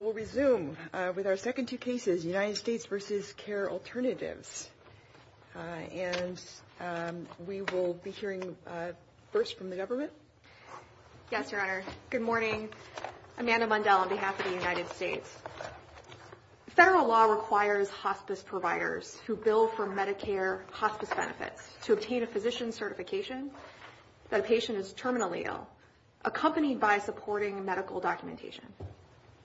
We'll resume with our second two cases, United States v. Care Alternatives, and we will be hearing first from the government. Yes, Your Honor. Good morning. Amanda Mundell on behalf of the United States. Federal law requires hospice providers to bill for Medicare hospice benefits to obtain a physician's certification if a patient is terminally ill, accompanied by supporting medical documentation.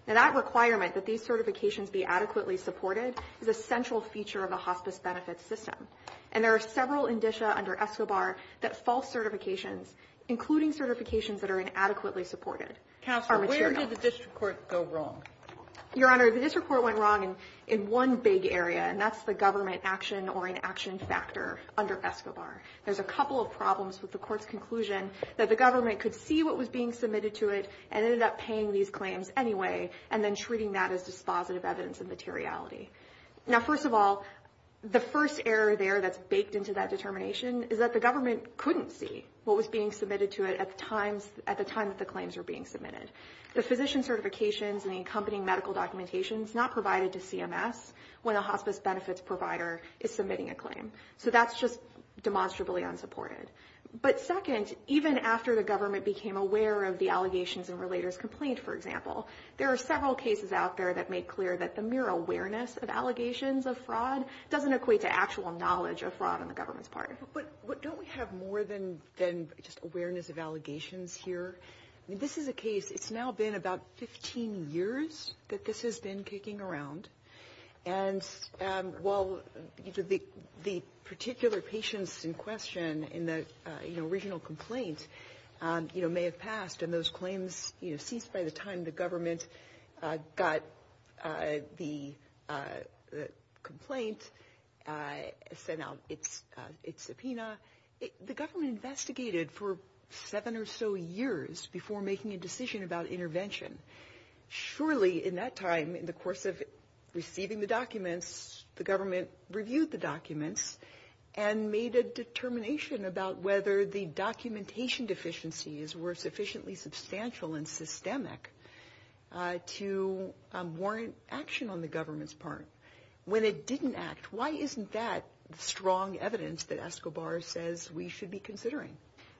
And that requirement that these certifications be adequately supported is a central feature of a hospice benefits system. And there are several indicia under ESCOBAR that false certifications, including certifications that are inadequately supported, are material. Counselor, where did this report go wrong? Your Honor, this report went wrong in one big area, and that's the government action or inaction factor under ESCOBAR. There's a couple of problems with the court's conclusion that the government could see what was being submitted to it and ended up paying these claims anyway and then treating that as dispositive evidence of materiality. Now, first of all, the first error there that's baked into that determination is that the government couldn't see what was being submitted to it at the time that the claims were being submitted. The physician certifications and the accompanying medical documentation is not provided to CMS when a hospice benefits provider is submitting a claim. So that's just demonstrably unsupported. But second, even after the government became aware of the allegations and related complaints, for example, there are several cases out there that make clear that the mere awareness of allegations of fraud doesn't equate to actual knowledge of fraud on the government's part. But don't we have more than just awareness of allegations here? This is a case, it's now been about 15 years that this has been kicking around. And while the particular patients in question in the original complaint may have passed and those claims ceased by the time the government got the complaint, sent out its subpoena, the government investigated for seven or so years before making a decision about intervention. Surely in that time, in the course of receiving the documents, the government reviewed the documents and made a determination about whether the documentation deficiencies were sufficiently substantial and systemic to warrant action on the government's part. When it didn't act, why isn't that strong evidence that ESCOBAR says we should be considering?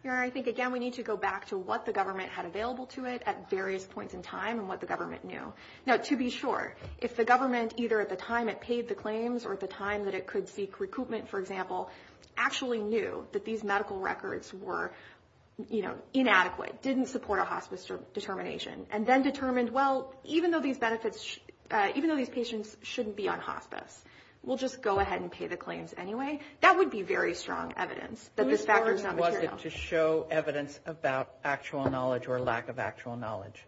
I think, again, we need to go back to what the government had available to it at various points in time and what the government knew. Now, to be sure, if the government, either at the time it paid the claims or at the time that it could seek recoupment, for example, actually knew that these medical records were inadequate, didn't support a hospice determination, and then determined, well, even though these patients shouldn't be on hospice, we'll just go ahead and pay the claims anyway, that would be very strong evidence that there's factors in that material. Whose burden was it to show evidence about actual knowledge or lack of actual knowledge?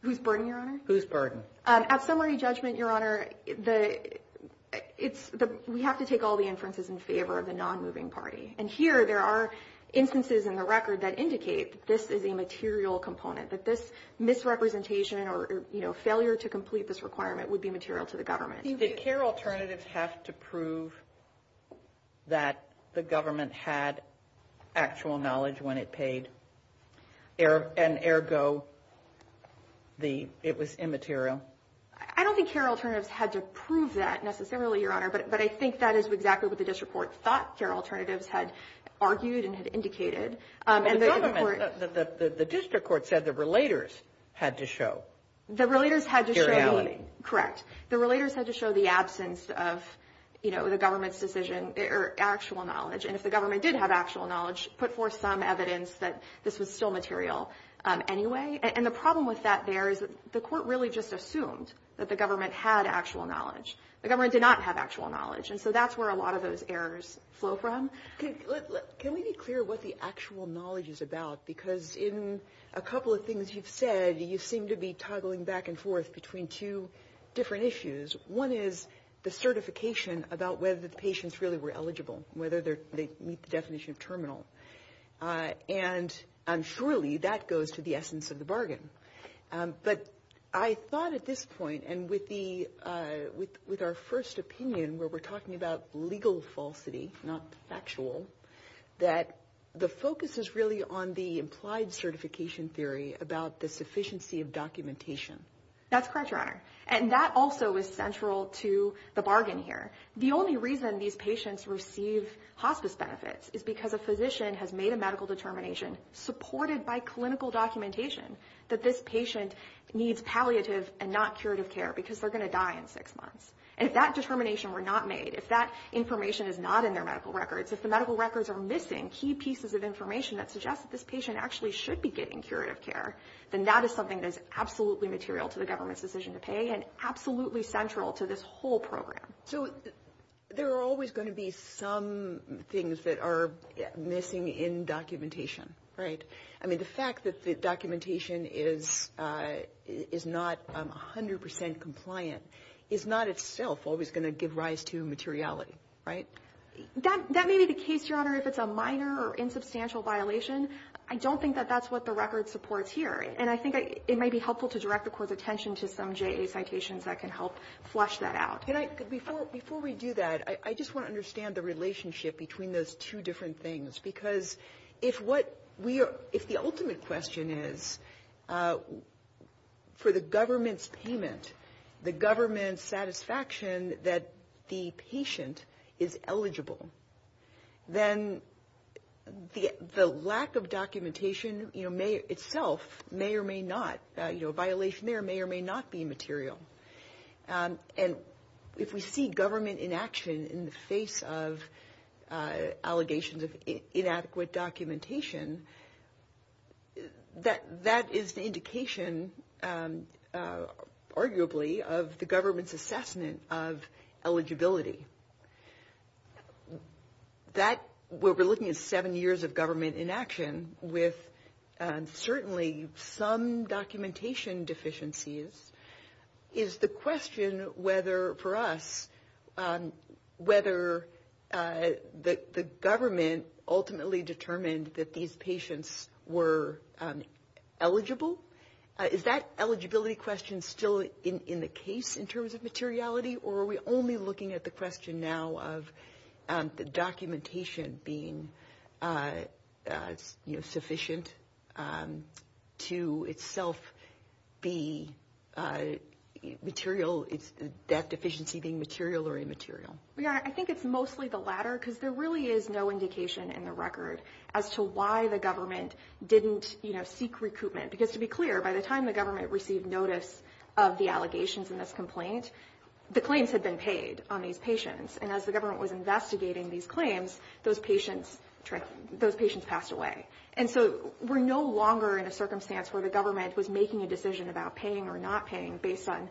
Whose burden, Your Honor? Whose burden? At summary judgment, Your Honor, we have to take all the inferences in favor of the non-moving party. And here there are instances in the record that indicate this is a material component, that this misrepresentation or failure to complete this requirement would be material to the government. Did CARE alternatives have to prove that the government had actual knowledge when it paid, and, ergo, it was immaterial? I don't think CARE alternatives had to prove that necessarily, Your Honor, but I think that is exactly what the district court thought CARE alternatives had argued and had indicated. The district court said the relators had to show. The relators had to show. Seriality. Correct. The relators had to show the absence of, you know, the government's decision or actual knowledge. And if the government did have actual knowledge, put forth some evidence that this was still material anyway. And the problem with that there is the court really just assumed that the government had actual knowledge. The government did not have actual knowledge. And so that's where a lot of those errors flow from. Can we be clear what the actual knowledge is about? Because in a couple of things you've said, you seem to be toggling back and forth between two different issues. One is the certification about whether the patients really were eligible, whether they meet the definition of terminal. And surely that goes to the essence of the bargain. But I thought at this point, and with our first opinion where we're talking about legal falsity, not factual, that the focus is really on the implied certification theory about the sufficiency of documentation. That's correct, Your Honor. And that also is central to the bargain here. The only reason these patients receive hospice benefits is because a physician has made a medical determination, supported by clinical documentation, that this patient needs palliative and not curative care because they're going to die in six months. And if that determination were not made, if that information is not in their medical records, if the medical records are missing key pieces of information that suggest that this patient actually should be getting curative care, then that is something that is absolutely material to the government's decision to pay and absolutely central to this whole program. So there are always going to be some things that are missing in documentation, right? I mean, the fact that the documentation is not 100% compliant is not itself always going to give rise to materiality, right? That may be the case, Your Honor, if it's a minor or insubstantial violation. I don't think that that's what the record supports here. And I think it might be helpful to direct the Court's attention to some JA citations that can help flush that out. Before we do that, I just want to understand the relationship between those two different things, because if the ultimate question is for the government's payment, the government's satisfaction that the patient is eligible, then the lack of documentation itself may or may not, a violation there, may or may not be material. And if we see government inaction in the face of allegations of inadequate documentation, that is an indication, arguably, of the government's assessment of eligibility. That, where we're looking at seven years of government inaction with certainly some documentation deficiencies, is the question whether, for us, whether the government ultimately determined that these patients were eligible. Is that eligibility question still in the case in terms of materiality, or are we only looking at the question now of the documentation being sufficient to itself be material, that deficiency being material or immaterial? Your Honor, I think it's mostly the latter, because there really is no indication in the record as to why the government didn't seek recoupment. Because, to be clear, by the time the government received notice of the allegations in this complaint, the claims had been paid on these patients. And as the government was investigating these claims, those patients passed away. And so we're no longer in a circumstance where the government was making a decision about paying or not paying based on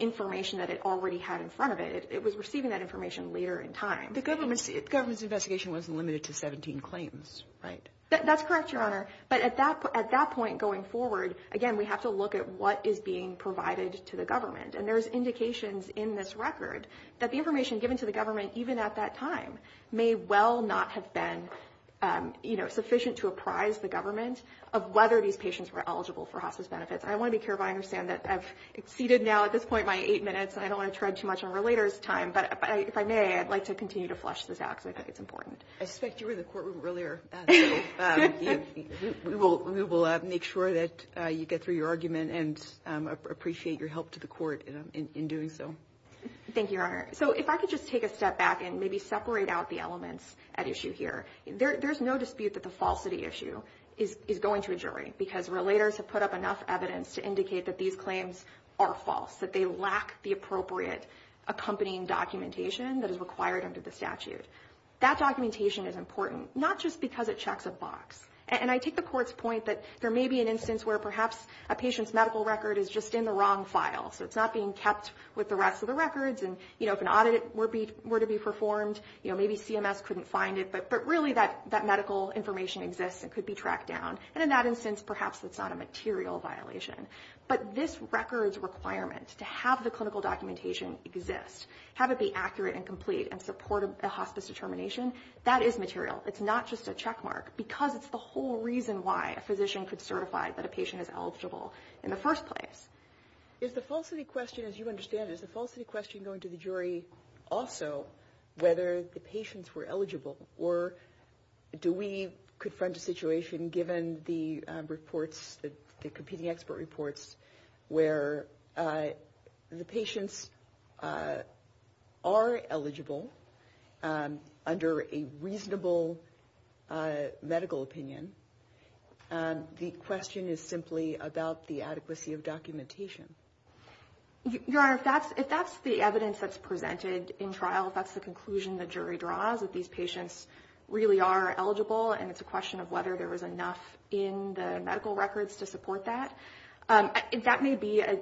information that it already had in front of it. It was receiving that information later in time. The government's investigation wasn't limited to 17 claims, right? That's correct, Your Honor. But at that point going forward, again, we have to look at what is being provided to the government. And there's indications in this record that the information given to the government, even at that time, may well not have been sufficient to apprise the government of whether these patients were eligible for hospice benefits. I want to be clear if I understand that I've exceeded now at this point my eight minutes, and I don't want to turn too much over later this time. But if I may, I'd like to continue to flush this out because I think it's important. I suspect you were in the courtroom earlier, so we will make sure that you get through your argument and appreciate your help to the court in doing so. Thank you, Your Honor. So if I could just take a step back and maybe separate out the elements at issue here. There's no dispute that the falsity issue is going to a jury because relators have put up enough evidence to indicate that these claims are false, that they lack the appropriate accompanying documentation that is required under the statute. That documentation is important, not just because it checks a box. And I take the court's point that there may be an instance where perhaps a patient's medical record is just in the wrong file, so it's not being kept with the rest of the records. And, you know, if an audit were to be performed, you know, maybe CMS couldn't find it, but really that medical information exists and could be tracked down. And in that instance, perhaps it's not a material violation. But this record's requirement to have the clinical documentation exist, have it be accurate and complete and support a hospice determination, that is material. It's not just a checkmark because it's the whole reason why a physician could certify that a patient is eligible in the first place. Is the falsity question, as you understand it, is the falsity question going to the jury also whether the patients were eligible or do we confront a situation given the reports, the competing expert reports, where the patients are eligible under a reasonable medical opinion. The question is simply about the adequacy of documentation. Your Honor, if that's the evidence that's presented in trial, if that's the conclusion the jury draws that these patients really are eligible and it's a question of whether there is enough in the medical records to support that, that may be a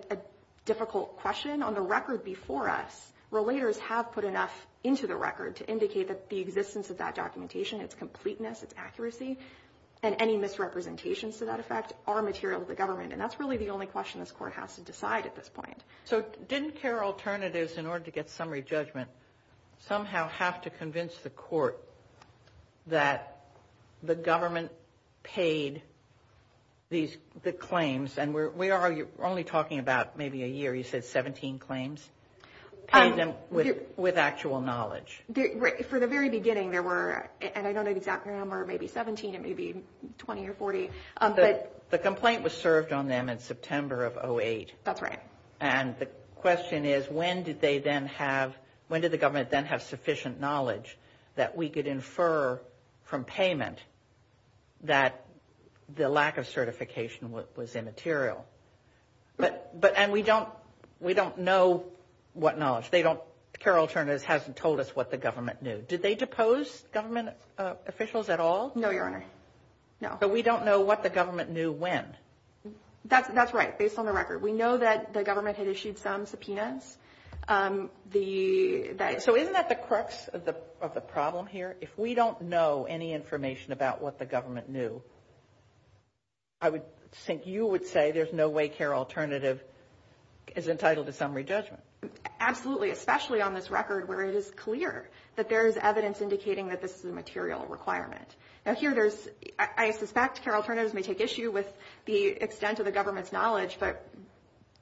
difficult question. On the record before us, relators have put enough into the record to indicate that the existence of that documentation, its completeness, its accuracy, and any misrepresentations to that effect are materials of government. And that's really the only question this Court has to decide at this point. So didn't CARE alternatives, in order to get summary judgment, somehow have to convince the Court that the government paid the claims, and we're only talking about maybe a year, you said 17 claims, paid them with actual knowledge? For the very beginning there were, and I don't know the exact number, maybe 17, maybe 20 or 40. The complaint was served on them in September of 2008. That's right. And the question is, when did the government then have sufficient knowledge that we could infer from payment that the lack of certification was immaterial? And we don't know what knowledge. CARE alternatives hasn't told us what the government knew. Did they depose government officials at all? No, Your Honor, no. So we don't know what the government knew when? That's right, based on the record. We know that the government had issued some subpoenas. So isn't that the crux of the problem here? If we don't know any information about what the government knew, I would think you would say there's no way CARE alternative is entitled to summary judgment. Absolutely, especially on this record where it is clear that there is evidence indicating that this is a material requirement. Now here I suspect CARE alternatives may take issue with the extent of the government's knowledge, but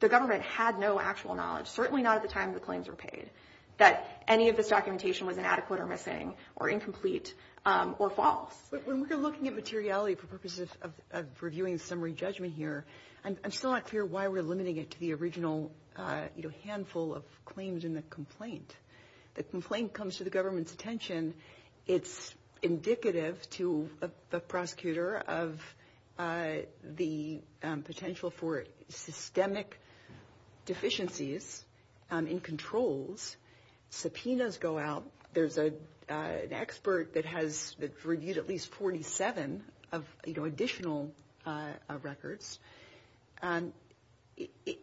the government had no actual knowledge, certainly not at the time the claims were paid, that any of this documentation was inadequate or missing or incomplete or false. When we're looking at materiality for purposes of reviewing summary judgment here, I'm still not clear why we're limiting it to the original handful of claims in the complaint. The complaint comes to the government's attention. It's indicative to a prosecutor of the potential for systemic deficiencies in controls. Subpoenas go out. There's an expert that has reviewed at least 47 additional records.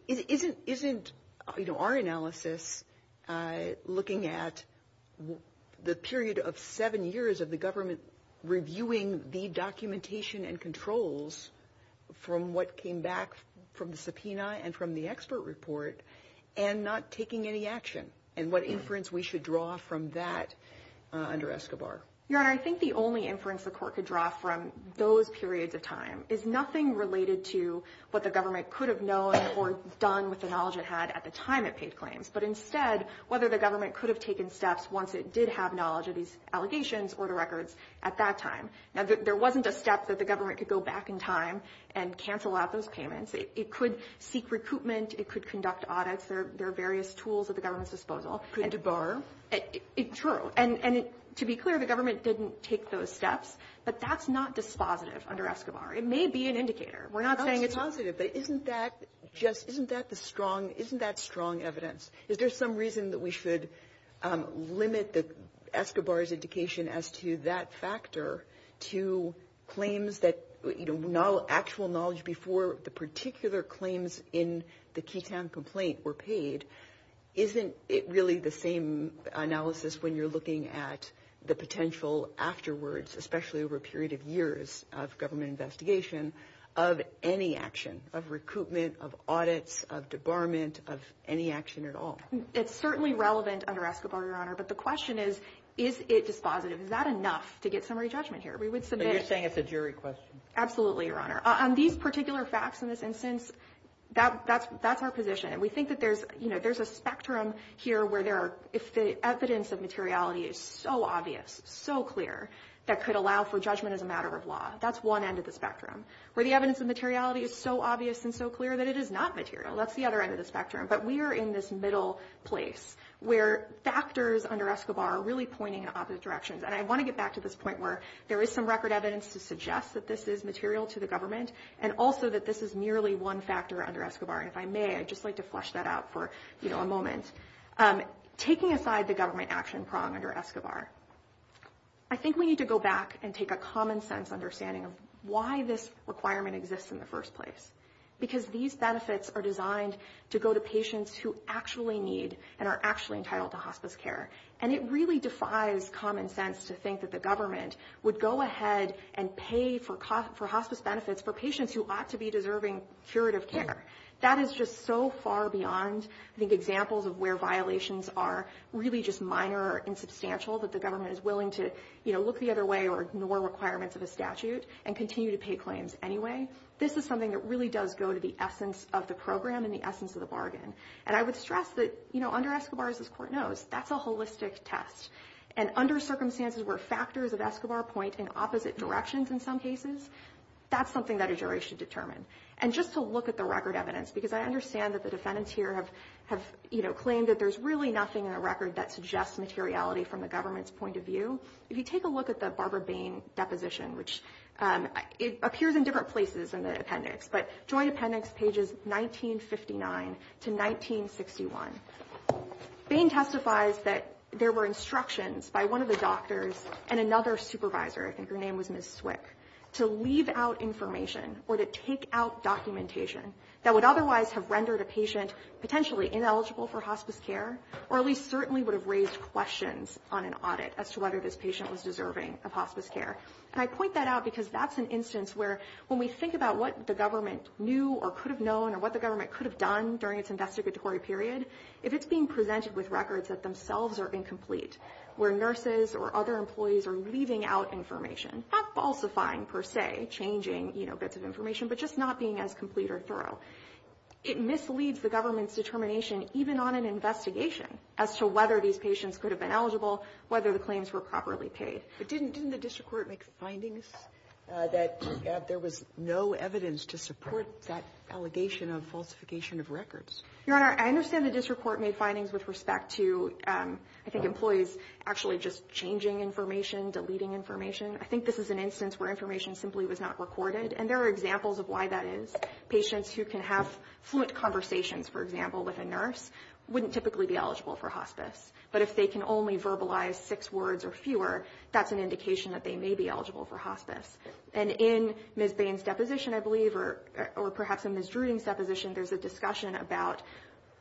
Isn't our analysis looking at the period of seven years of the government reviewing the documentation and controls from what came back from the subpoena and from the expert report and not taking any action and what inference we should draw from that under ESCOBAR? Your Honor, I think the only inference the court could draw from those periods of time is nothing related to what the government could have known or done with the knowledge it had at the time it paid claims, but instead whether the government could have taken steps once it did have knowledge of these allegations or the records at that time. Now, there wasn't a step that the government could go back in time and cancel out those payments. It could seek recruitment. It could conduct audits. There are various tools at the government's disposal. It could debar. True, and to be clear, the government didn't take those steps, but that's not dispositive under ESCOBAR. It may be an indicator. We're not saying it's not. But isn't that strong evidence? Is there some reason that we should limit the ESCOBAR's indication as to that factor to claims that actual knowledge before the particular claims in the QCAM complaint were paid? Isn't it really the same analysis when you're looking at the potential afterwards, especially over a period of years of government investigation, of any action, of recruitment, of audits, of debarment, of any action at all? It's certainly relevant under ESCOBAR, Your Honor, but the question is, is it dispositive? Is that enough to get summary judgment here? You're saying it's a jury question. Absolutely, Your Honor. These particular facts in this instance, that's our position. We think that there's a spectrum here where if the evidence of materiality is so obvious, so clear, that could allow for judgment as a matter of law. That's one end of the spectrum. Where the evidence of materiality is so obvious and so clear that it is not material, that's the other end of the spectrum. But we are in this middle place where factors under ESCOBAR are really pointing in opposite directions. And I want to get back to this point where there is some record evidence to suggest that this is material to the government and also that this is nearly one factor under ESCOBAR. And if I may, I'd just like to flesh that out for a moment. Taking aside the government action prong under ESCOBAR, I think we need to go back and take a common sense understanding of why this requirement exists in the first place. Because these benefits are designed to go to patients who actually need and are actually entitled to hospice care. And it really defies common sense to think that the government would go ahead and pay for hospice benefits for patients who ought to be deserving curative care. That is just so far beyond the examples of where violations are really just minor or insubstantial that the government is willing to look the other way or ignore requirements of the statute and continue to pay claims anyway. This is something that really does go to the essence of the program and the essence of the bargain. And I would stress that under ESCOBAR, as this court knows, that's a holistic test. And under circumstances where factors of ESCOBAR point in opposite directions in some cases, that's something that a jury should determine. And just to look at the record evidence, because I understand that the defendants here have claimed that there's really nothing in the record that suggests materiality from the government's point of view. If you take a look at the Barbara Bain deposition, which appears in different places in the appendix, but Joint Appendix pages 1959 to 1961, Bain testifies that there were instructions by one of the doctors and another supervisor, I think her name was Ms. Swick, to leave out information or to take out documentation that would otherwise have rendered a patient potentially ineligible for hospice care or at least certainly would have raised questions on an audit as to whether this patient was deserving of hospice care. And I point that out because that's an instance where when we think about what the government knew or could have known or what the government could have done during its investigatory period, if it's being presented with records that themselves are incomplete, where nurses or other employees are leaving out information, not falsifying per se, changing bits of information, but just not being as complete or thorough, it misleads the government's determination even on an investigation as to whether these patients could have been eligible, whether the claims were properly paid. Didn't the district court make findings that there was no evidence to support that allegation of falsification of records? Your Honor, I understand the district court made findings with respect to, I think, employees actually just changing information, deleting information. I think this is an instance where information simply was not recorded, and there are examples of why that is. Patients who can have fluent conversations, for example, with a nurse, wouldn't typically be eligible for hospice. But if they can only verbalize six words or fewer, that's an indication that they may be eligible for hospice. And in Ms. Bain's deposition, I believe, or perhaps in Ms. Druden's deposition, there's a discussion about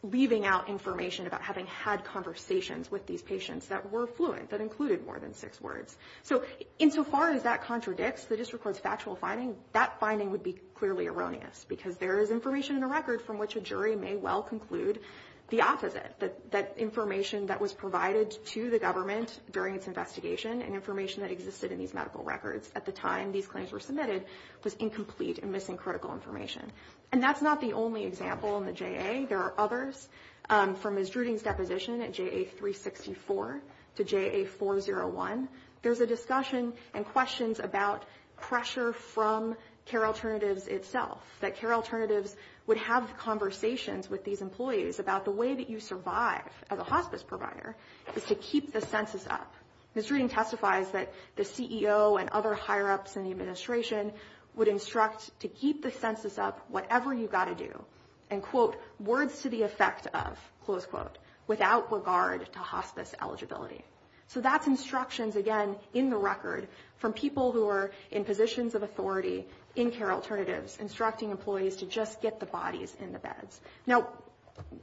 leaving out information about having had conversations with these patients that were fluent, that included more than six words. So insofar as that contradicts the district court's factual findings, that finding would be clearly erroneous because there is information in the records from which a jury may well conclude the opposite, that information that was provided to the government during its investigation and information that existed in these medical records at the time these claims were submitted was incomplete and missing critical information. And that's not the only example in the JA. There are others. From Ms. Druden's deposition at JA-364 to JA-401, there's a discussion and questions about pressure from Care Alternatives itself, that Care Alternatives would have conversations with these employees about the way that you survive as a hospice provider is to keep the census up. Ms. Druden testifies that the CEO and other higher-ups in the administration would instruct to keep the census up, whatever you've got to do, and, quote, words to the effect of, close quote, without regard to hospice eligibility. So that's instructions, again, in the record from people who are in positions of authority in Care Alternatives instructing employees to just get the bodies in the beds. Now,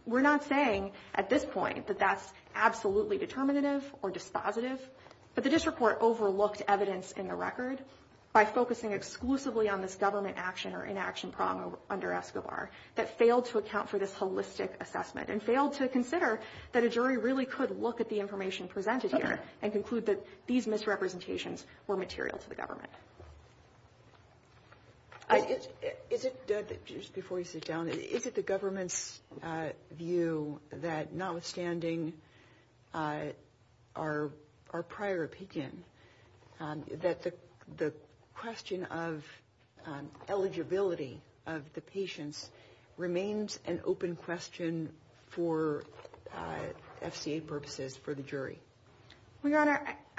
we're not saying at this point that that's absolutely determinative or dispositive, but the district court overlooked evidence in the record by focusing exclusively on this government action or inaction problem under SOR that failed to account for this holistic assessment and failed to consider that a jury really could look at the information presented here and conclude that these misrepresentations were material to the government. Just before we sit down, is it the government's view that, notwithstanding our prior peek-in, that the question of eligibility of the patients remains an open question for FDA purposes for the jury?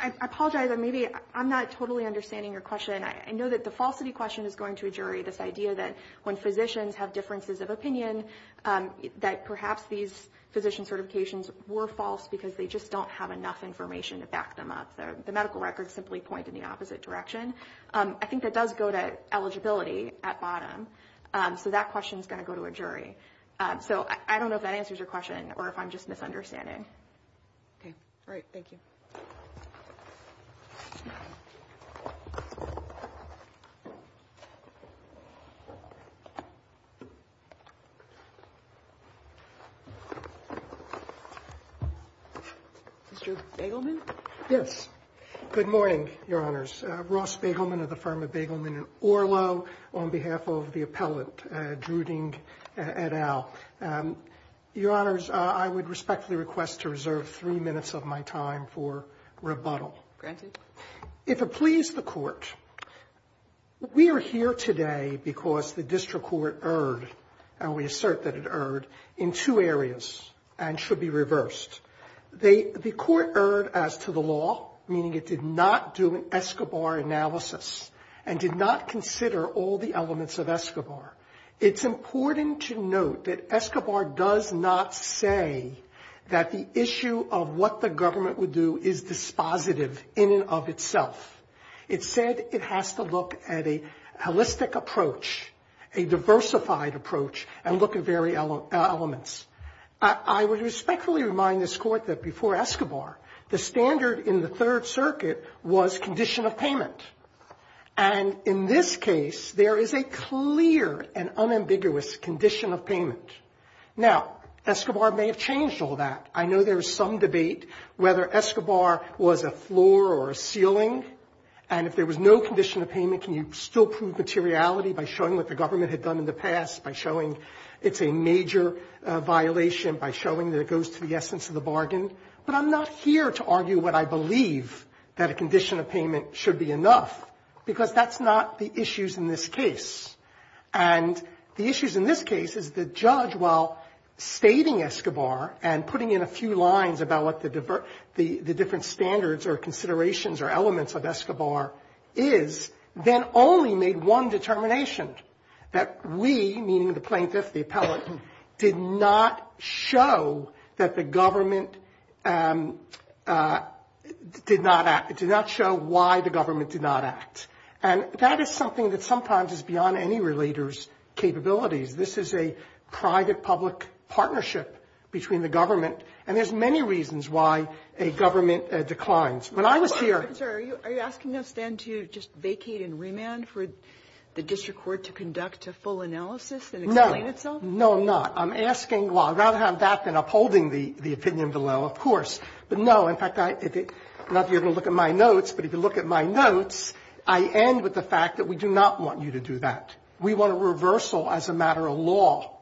I apologize. Maybe I'm not totally understanding your question. I know that the falsity question is going to a jury, this idea that when physicians have differences of opinion, that perhaps these physician certifications were false because they just don't have enough information to back them up. The medical records simply point in the opposite direction. I think that does go to eligibility at bottom. So that question is going to go to a jury. I don't know if that answers your question or if I'm just misunderstanding. All right. Thank you. Mr. Bagelman? My name is Ross Bagelman of the firm of Bagelman & Orlow, on behalf of the appellate, Druding et al. Your Honors, I would respectfully request to reserve three minutes of my time for rebuttal. If it please the Court, we are here today because the district court erred, and we assert that it erred, in two areas and should be reversed. The court erred as to the law, meaning it did not do an ESCOBAR analysis and did not consider all the elements of ESCOBAR. It's important to note that ESCOBAR does not say that the issue of what the government would do is dispositive in and of itself. It said it has to look at a holistic approach, a diversified approach, and look at various elements. I would respectfully remind this Court that before ESCOBAR, the standard in the Third Circuit was condition of payment. And in this case, there is a clear and unambiguous condition of payment. Now, ESCOBAR may have changed all that. I know there is some debate whether ESCOBAR was a floor or a ceiling, and if there was no condition of payment, can you still prove materiality by showing what the government had done in the past, by showing it's a major violation, by showing that it goes to the essence of the bargain? But I'm not here to argue what I believe that a condition of payment should be enough, because that's not the issues in this case. And the issues in this case is the judge, while stating ESCOBAR and putting in a few lines about what the different standards or considerations or elements of ESCOBAR is, then only made one determination, that we, meaning the plaintiff, the appellate, did not show that the government did not act, did not show why the government did not act. And that is something that sometimes is beyond any relator's capabilities. This is a private-public partnership between the government, and there's many reasons why a government declines. Are you asking us then to just vacate and remand for the district court to conduct a full analysis and explain itself? No, no, I'm not. I'm asking, well, I'd rather have that than upholding the opinion below, of course. But no, in fact, not that you're going to look at my notes, but if you look at my notes, I end with the fact that we do not want you to do that. We want a reversal as a matter of law.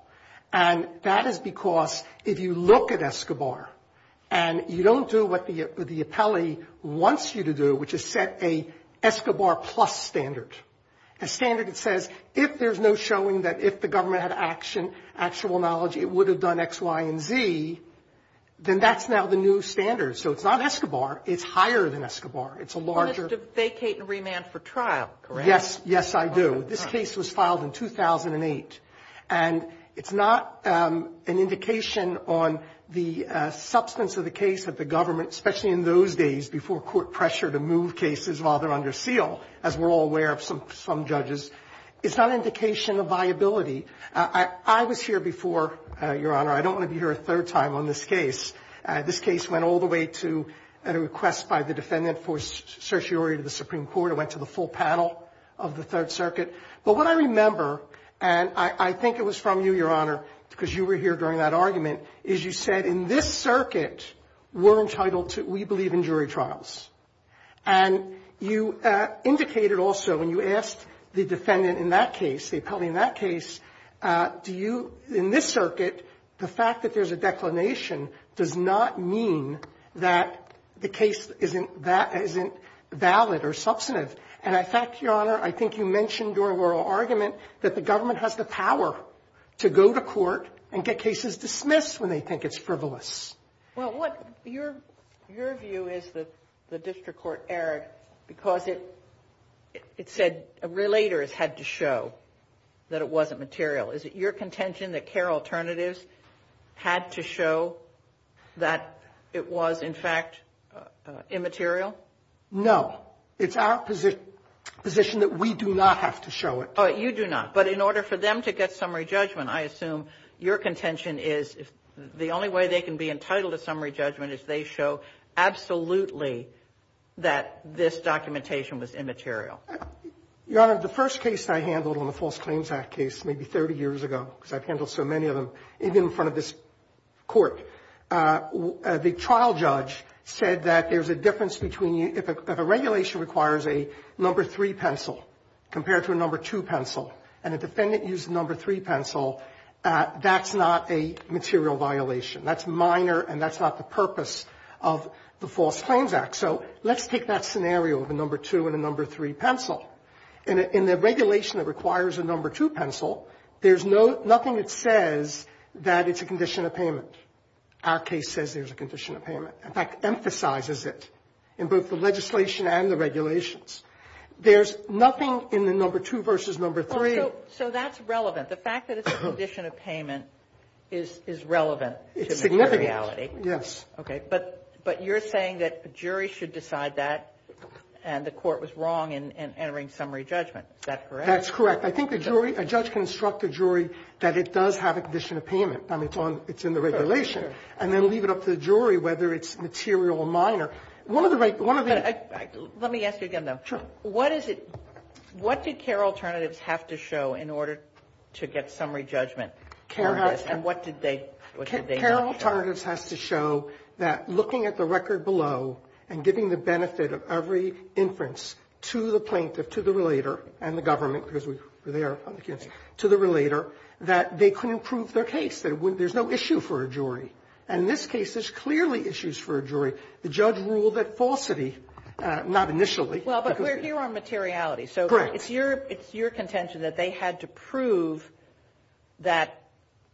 And that is because if you look at ESCOBAR and you don't do what the appellate wants you to do, which is set a ESCOBAR plus standard, a standard that says if there's no showing that if the government had action, actual knowledge, it would have done X, Y, and Z, then that's now the new standard. So it's not ESCOBAR. It's higher than ESCOBAR. It's a larger – You want us to vacate and remand for trial, correct? Yes, yes, I do. This case was filed in 2008, and it's not an indication on the substance of the case that the government, especially in those days before court pressure to move cases while they're under seal, as we're all aware of some judges. It's not an indication of viability. I was here before, Your Honor. I don't want to be here a third time on this case. This case went all the way to a request by the defendant for certiorari to the Supreme Court. It sort of went to the full paddle of the Third Circuit. But what I remember, and I think it was from you, Your Honor, because you were here during that argument, is you said in this circuit we're entitled to – we believe in jury trials. And you indicated also when you asked the defendant in that case, the appellee in that case, do you – in this circuit, the fact that there's a declination does not mean that the case isn't – that isn't valid or substantive. And I think, Your Honor, I think you mentioned during oral argument that the government has the power to go to court and get cases dismissed when they think it's frivolous. Well, what – your view is that the district court erred because it said a relator had to show that it wasn't material. Is it your contention that CARE Alternatives had to show that it was, in fact, immaterial? No. It's our position that we do not have to show it. Oh, you do not. But in order for them to get summary judgment, I assume your contention is the only way they can be entitled to summary judgment is they show absolutely that this documentation was immaterial. Your Honor, the first case that I handled in the False Claims Act case, maybe 30 years ago, because I've handled so many of them, in front of this court, the trial judge said that there's a difference between – if a regulation requires a number three pencil compared to a number two pencil, and a defendant used a number three pencil, that's not a material violation. That's minor and that's not the purpose of the False Claims Act. So let's take that scenario of a number two and a number three pencil. In the regulation that requires a number two pencil, there's nothing that says that it's a condition of payment. Our case says there's a condition of payment. In fact, it emphasizes it in both the legislation and the regulations. There's nothing in the number two versus number three. So that's relevant. The fact that it's a condition of payment is relevant. It's a reality. Yes. Okay. But you're saying that a jury should decide that, and the court was wrong in entering summary judgment. Is that correct? That's correct. I think a judge can instruct a jury that it does have a condition of payment. It's in the regulation. And then leave it up to the jury whether it's material or minor. Let me ask you again, though. Sure. What did CARE alternatives have to show in order to get summary judgment? And what did they not show? CARE alternatives has to show that looking at the record below and giving the benefit of every inference to the plaintiff, to the relator, and the government, because they are on the case, to the relator, that they couldn't prove their case. There's no issue for a jury. And in this case, there's clearly issues for a jury. The judge ruled that falsity, not initially. Well, but we're here on materiality. Correct. It's your contention that they had to prove that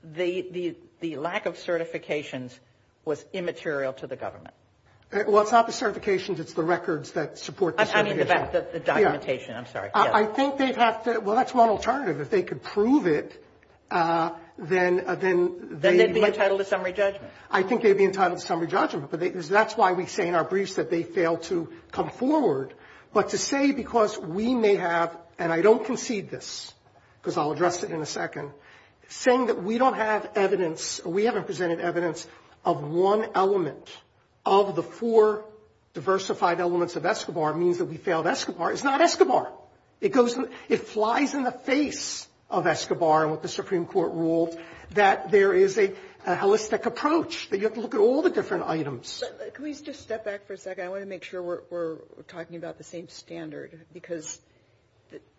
the lack of certifications was immaterial to the government. Well, it's not the certifications. It's the records that support the summary judgment. I mean, the documentation. I'm sorry. I think they have to – well, that's one alternative. If they could prove it, then they'd be entitled to summary judgment. I think they'd be entitled to summary judgment, because that's why we say in our briefs that they failed to come forward. But to say, because we may have – and I don't concede this, because I'll address it in a second – saying that we don't have evidence, we haven't presented evidence of one element of the four diversified elements of Escobar, means that we failed Escobar. It's not Escobar. It flies in the face of Escobar with the Supreme Court rule that there is a holistic approach, that you have to look at all the different items. Can we just step back for a second? I want to make sure we're talking about the same standard, because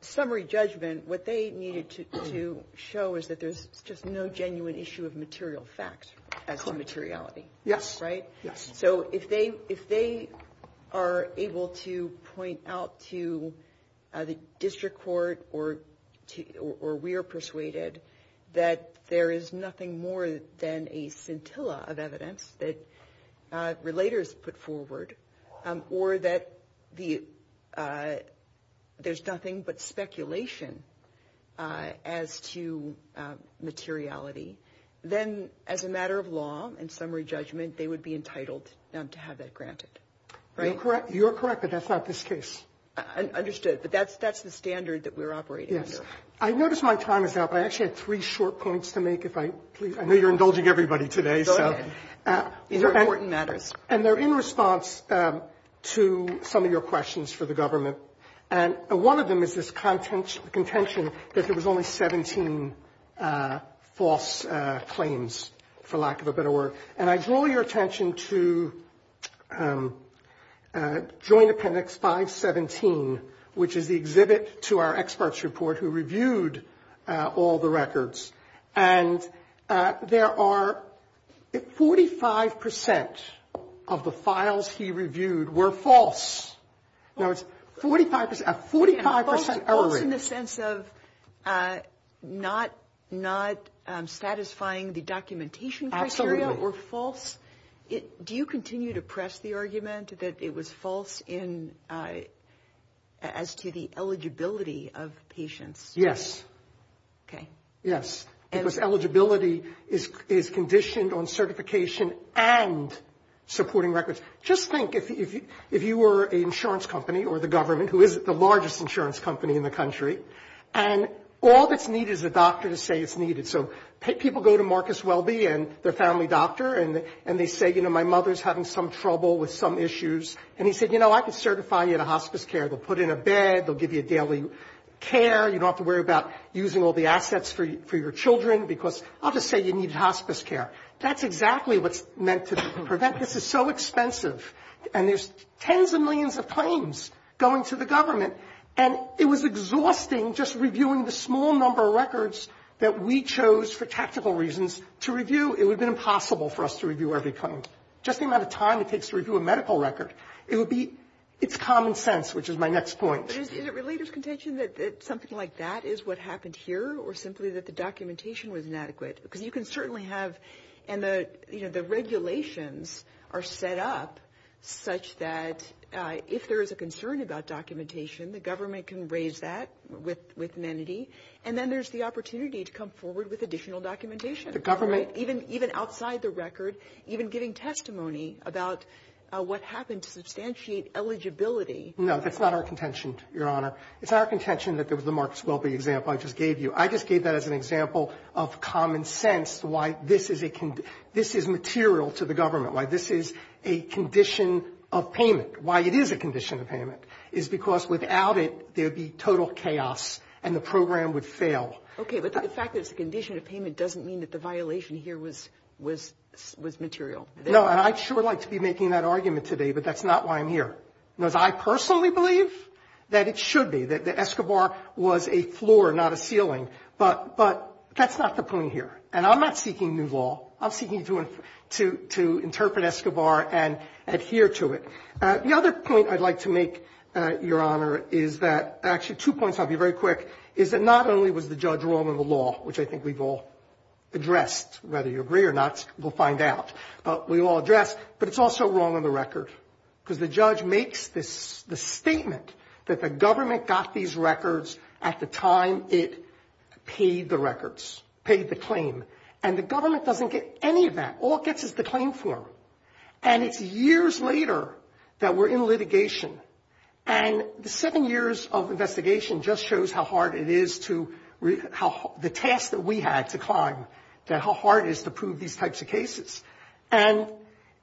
summary judgment, what they needed to show is that there's just no genuine issue of material facts as to materiality. Yes. Right? Yes. So if they are able to point out to the district court or we are persuaded that there is nothing more than a scintilla of evidence that relators put forward, or that there's nothing but speculation as to materiality, then as a matter of law and summary judgment, they would be entitled to have that granted. You're correct, but that's not this case. Understood. But that's the standard that we're operating under. Yes. I noticed my time is up. I actually had three short points to make. I know you're indulging everybody today. Go ahead. These are important matters. And they're in response to some of your questions for the government. And one of them is this contention that there was only 17 false claims, for lack of a better word. And I draw your attention to Joint Appendix 517, which is the exhibit to our experts report who reviewed all the records. And there are 45% of the files he reviewed were false. A 45% error rate. False in the sense of not satisfying the documentation criteria or false. Do you continue to press the argument that it was false as to the eligibility of patients? Yes. Okay. Yes. Because eligibility is conditioned on certification and supporting records. Just think, if you were an insurance company or the government, who is the largest insurance company in the country, and all that's needed is a doctor to say it's needed. So people go to Marcus Welby and their family doctor, and they say, you know, my mother's having some trouble with some issues. And he said, you know, I can certify you in a hospice care. They'll put you in a bed. They'll give you daily care. You don't have to worry about using all the assets for your children because I'll just say you need hospice care. That's exactly what's meant to prevent. This is so expensive. And there's tens of millions of claims going to the government. And it was exhausting just reviewing the small number of records that we chose for tactical reasons to review. It would have been impossible for us to review every claim. Just the amount of time it takes to review a medical record. It's common sense, which is my next point. But is it related contention that something like that is what happened here, or simply that the documentation was inadequate? Because you can certainly have the regulations are set up such that if there is a concern about documentation, the government can raise that with amenity. And then there's the opportunity to come forward with additional documentation. Even outside the record, even getting testimony about what happened to substantiate eligibility. No, that's not our contention, Your Honor. It's not our contention that there was a Mark Swopey example I just gave you. I just gave that as an example of common sense, why this is material to the government, why this is a condition of payment. Why it is a condition of payment is because without it, there'd be total chaos and the program would fail. Okay, but the fact that it's a condition of payment doesn't mean that the violation here was material. No, and I'd sure like to be making that argument today, but that's not why I'm here. Because I personally believe that it should be, that Escobar was a floor, not a ceiling. But that's not the point here. And I'm not seeking new law. I'm seeking to interpret Escobar and adhere to it. The other point I'd like to make, Your Honor, is that actually two points, I'll be very quick, is that not only was the judge wrong on the law, which I think we've all addressed, whether you agree or not, we'll find out. But it's also wrong on the record. Because the judge makes the statement that the government got these records at the time it paid the records, paid the claim. And the government doesn't get any of that. All it gets is the claim form. And it's years later that we're in litigation. And the seven years of investigation just shows how hard it is to, the task that we had to climb, how hard it is to prove these types of cases. And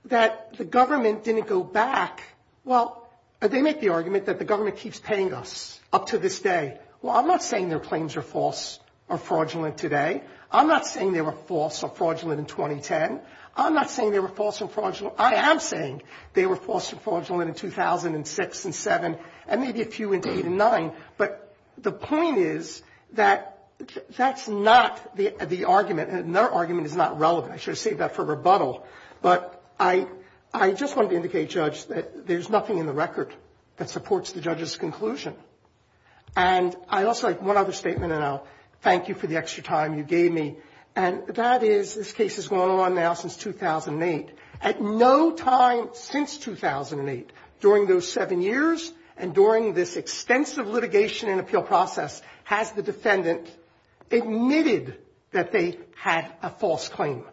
that the government didn't go back. Well, they make the argument that the government keeps paying us up to this day. Well, I'm not saying their claims are false or fraudulent today. I'm not saying they were false or fraudulent in 2010. I'm not saying they were false or fraudulent. I am saying they were false or fraudulent in 2006 and 2007 and maybe a few in 2009. But the point is that that's not the argument. And their argument is not relevant. I should have saved that for rebuttal. But I just wanted to indicate, Judge, that there's nothing in the record that supports the judge's conclusion. And I also have one other statement, and I'll thank you for the extra time you gave me. And that is this case has gone on now since 2008. At no time since 2008, during those seven years and during this extensive litigation and appeal process, has the defendant admitted that they had a false claim.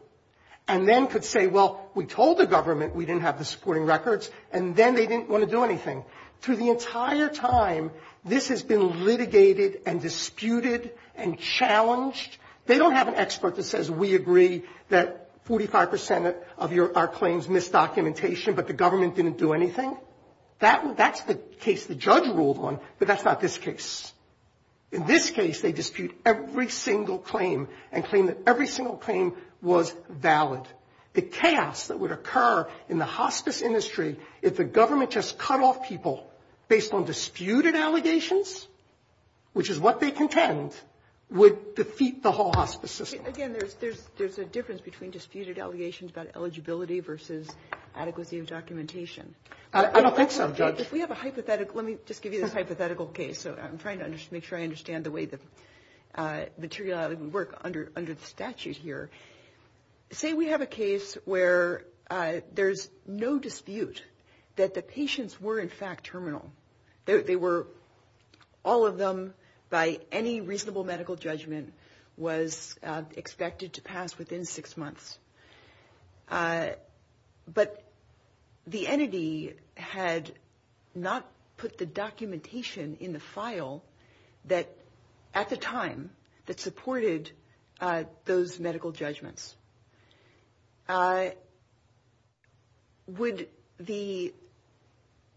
And then could say, well, we told the government we didn't have the supporting records, and then they didn't want to do anything. For the entire time, this has been litigated and disputed and challenged. They don't have an expert that says we agree that 45% of our claims missed documentation, but the government didn't do anything. That's the case the judge ruled on, but that's not this case. In this case, they dispute every single claim and claim that every single claim was valid. The chaos that would occur in the hospice industry if the government just cut off people based on disputed allegations, which is what they contend, would defeat the whole hospice system. Again, there's a difference between disputed allegations about eligibility versus adequacy of documentation. I don't think so, Judge. If we have a hypothetical, let me just give you this hypothetical case. I'm trying to make sure I understand the way the material doesn't work under the statute here. Say we have a case where there's no dispute that the patients were in fact terminal. All of them, by any reasonable medical judgment, was expected to pass within six months. But the entity had not put the documentation in the file at the time that supported those medical judgments. Would the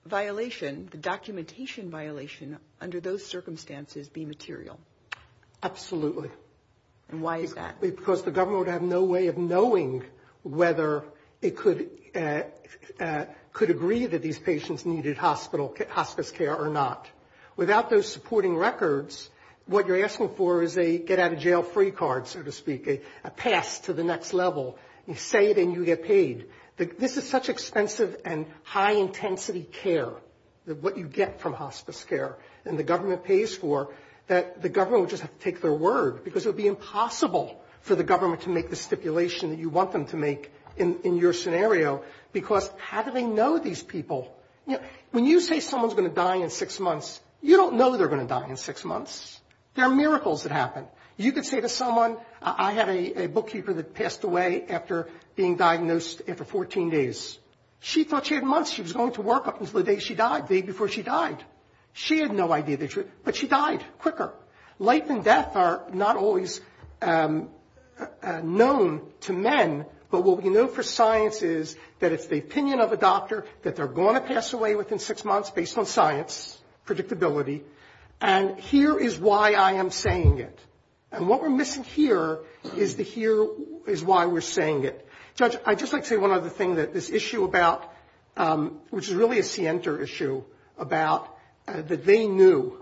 violation, the documentation violation, under those circumstances be material? Absolutely. And why is that? Because the government would have no way of knowing whether it could agree that these patients needed hospice care or not. Without those supporting records, what you're asking for is a get-out-of-jail-free card, so to speak, a pass to the next level, and say that you get paid. This is such expensive and high-intensity care, what you get from hospice care, and the government pays for that the government would just have to take their word, because it would be impossible for the government to make the stipulation that you want them to make in your scenario, because how do they know these people? When you say someone's going to die in six months, you don't know they're going to die in six months. There are miracles that happen. You could say to someone, I had a bookkeeper that passed away after being diagnosed after 14 days. She thought she had months. She was going to work up until the day she died, the day before she died. She had no idea the truth, but she died quicker. Life and death are not always known to men, but what we know for science is that it's the opinion of a doctor that they're going to pass away within six months based on science, predictability, and here is why I am saying it. And what we're missing here is the here is why we're saying it. Judge, I'd just like to say one other thing that this issue about, which is really a center issue, about that they knew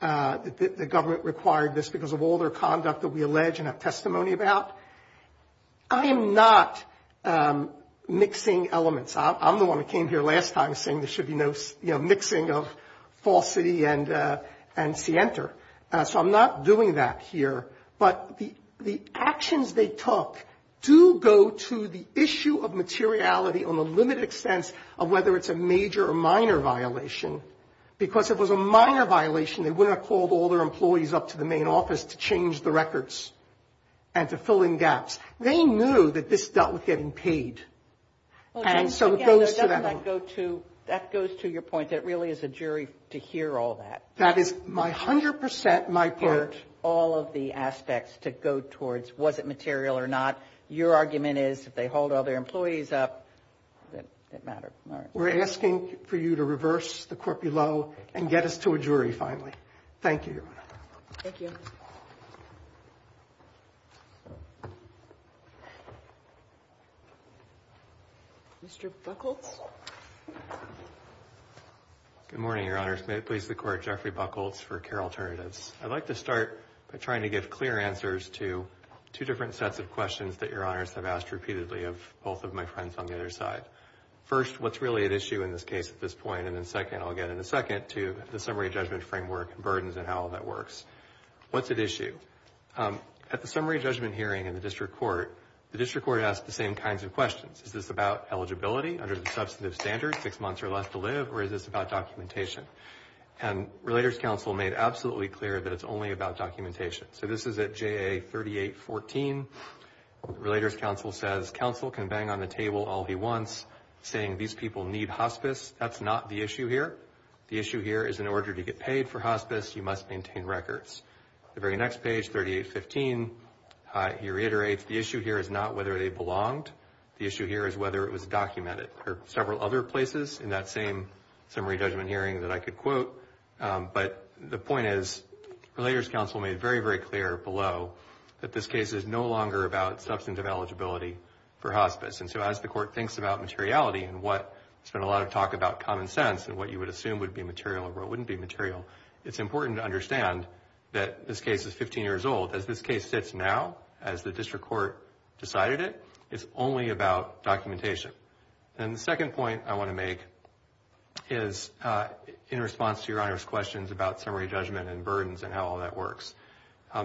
that the government required this because of all their conduct that we allege and have testimony about. I am not mixing elements. I'm the one who came here last time saying there should be no mixing of falsity and scienter. So I'm not doing that here. But the actions they took do go to the issue of materiality on the limited extent of whether it's a major or minor violation because if it was a minor violation, they wouldn't have called all their employees up to the main office to change the records and to fill in gaps. They knew that this dealt with getting paid. And so it goes to that. That goes to your point that it really is a jury to hear all that. That is 100% my point. All of the aspects to go towards was it material or not. Your argument is if they hauled all their employees up, it didn't matter. We're asking for you to reverse the corpulo and get us to a jury finally. Thank you. Thank you. Mr. Buchholz? Good morning, Your Honors. May it please the Court, Jeffrey Buchholz for CARE Alternatives. I'd like to start by trying to give clear answers to two different sets of questions that Your Honors have asked repeatedly of both of my friends on the other side. First, what's really at issue in this case at this point? And then second, I'll get in a second, to the summary judgment framework and burdens and how all that works. What's at issue? At the summary judgment hearing in the district court, the district court asked the same kinds of questions. Is this about eligibility under the substantive standards, six months or less to live, or is this about documentation? And Relators Council made absolutely clear that it's only about documentation. So this is at JA 3814. Relators Council says, Council can bang on the table all he wants, saying these people need hospice. That's not the issue here. The issue here is in order to get paid for hospice, you must maintain records. The very next page, 3815, you reiterate the issue here is not whether they belonged. The issue here is whether it was documented. There are several other places in that same summary judgment hearing that I could quote, but the point is Relators Council made very, very clear below that this case is no longer about substantive eligibility for hospice. And so as the court thinks about materiality and what there's been a lot of talk about common sense and what you would assume would be material or what wouldn't be material, it's important to understand that this case is 15 years old. As this case sits now, as the district court decided it, it's only about documentation. And the second point I want to make is in response to Your Honor's questions about summary judgment and burdens and how all that works.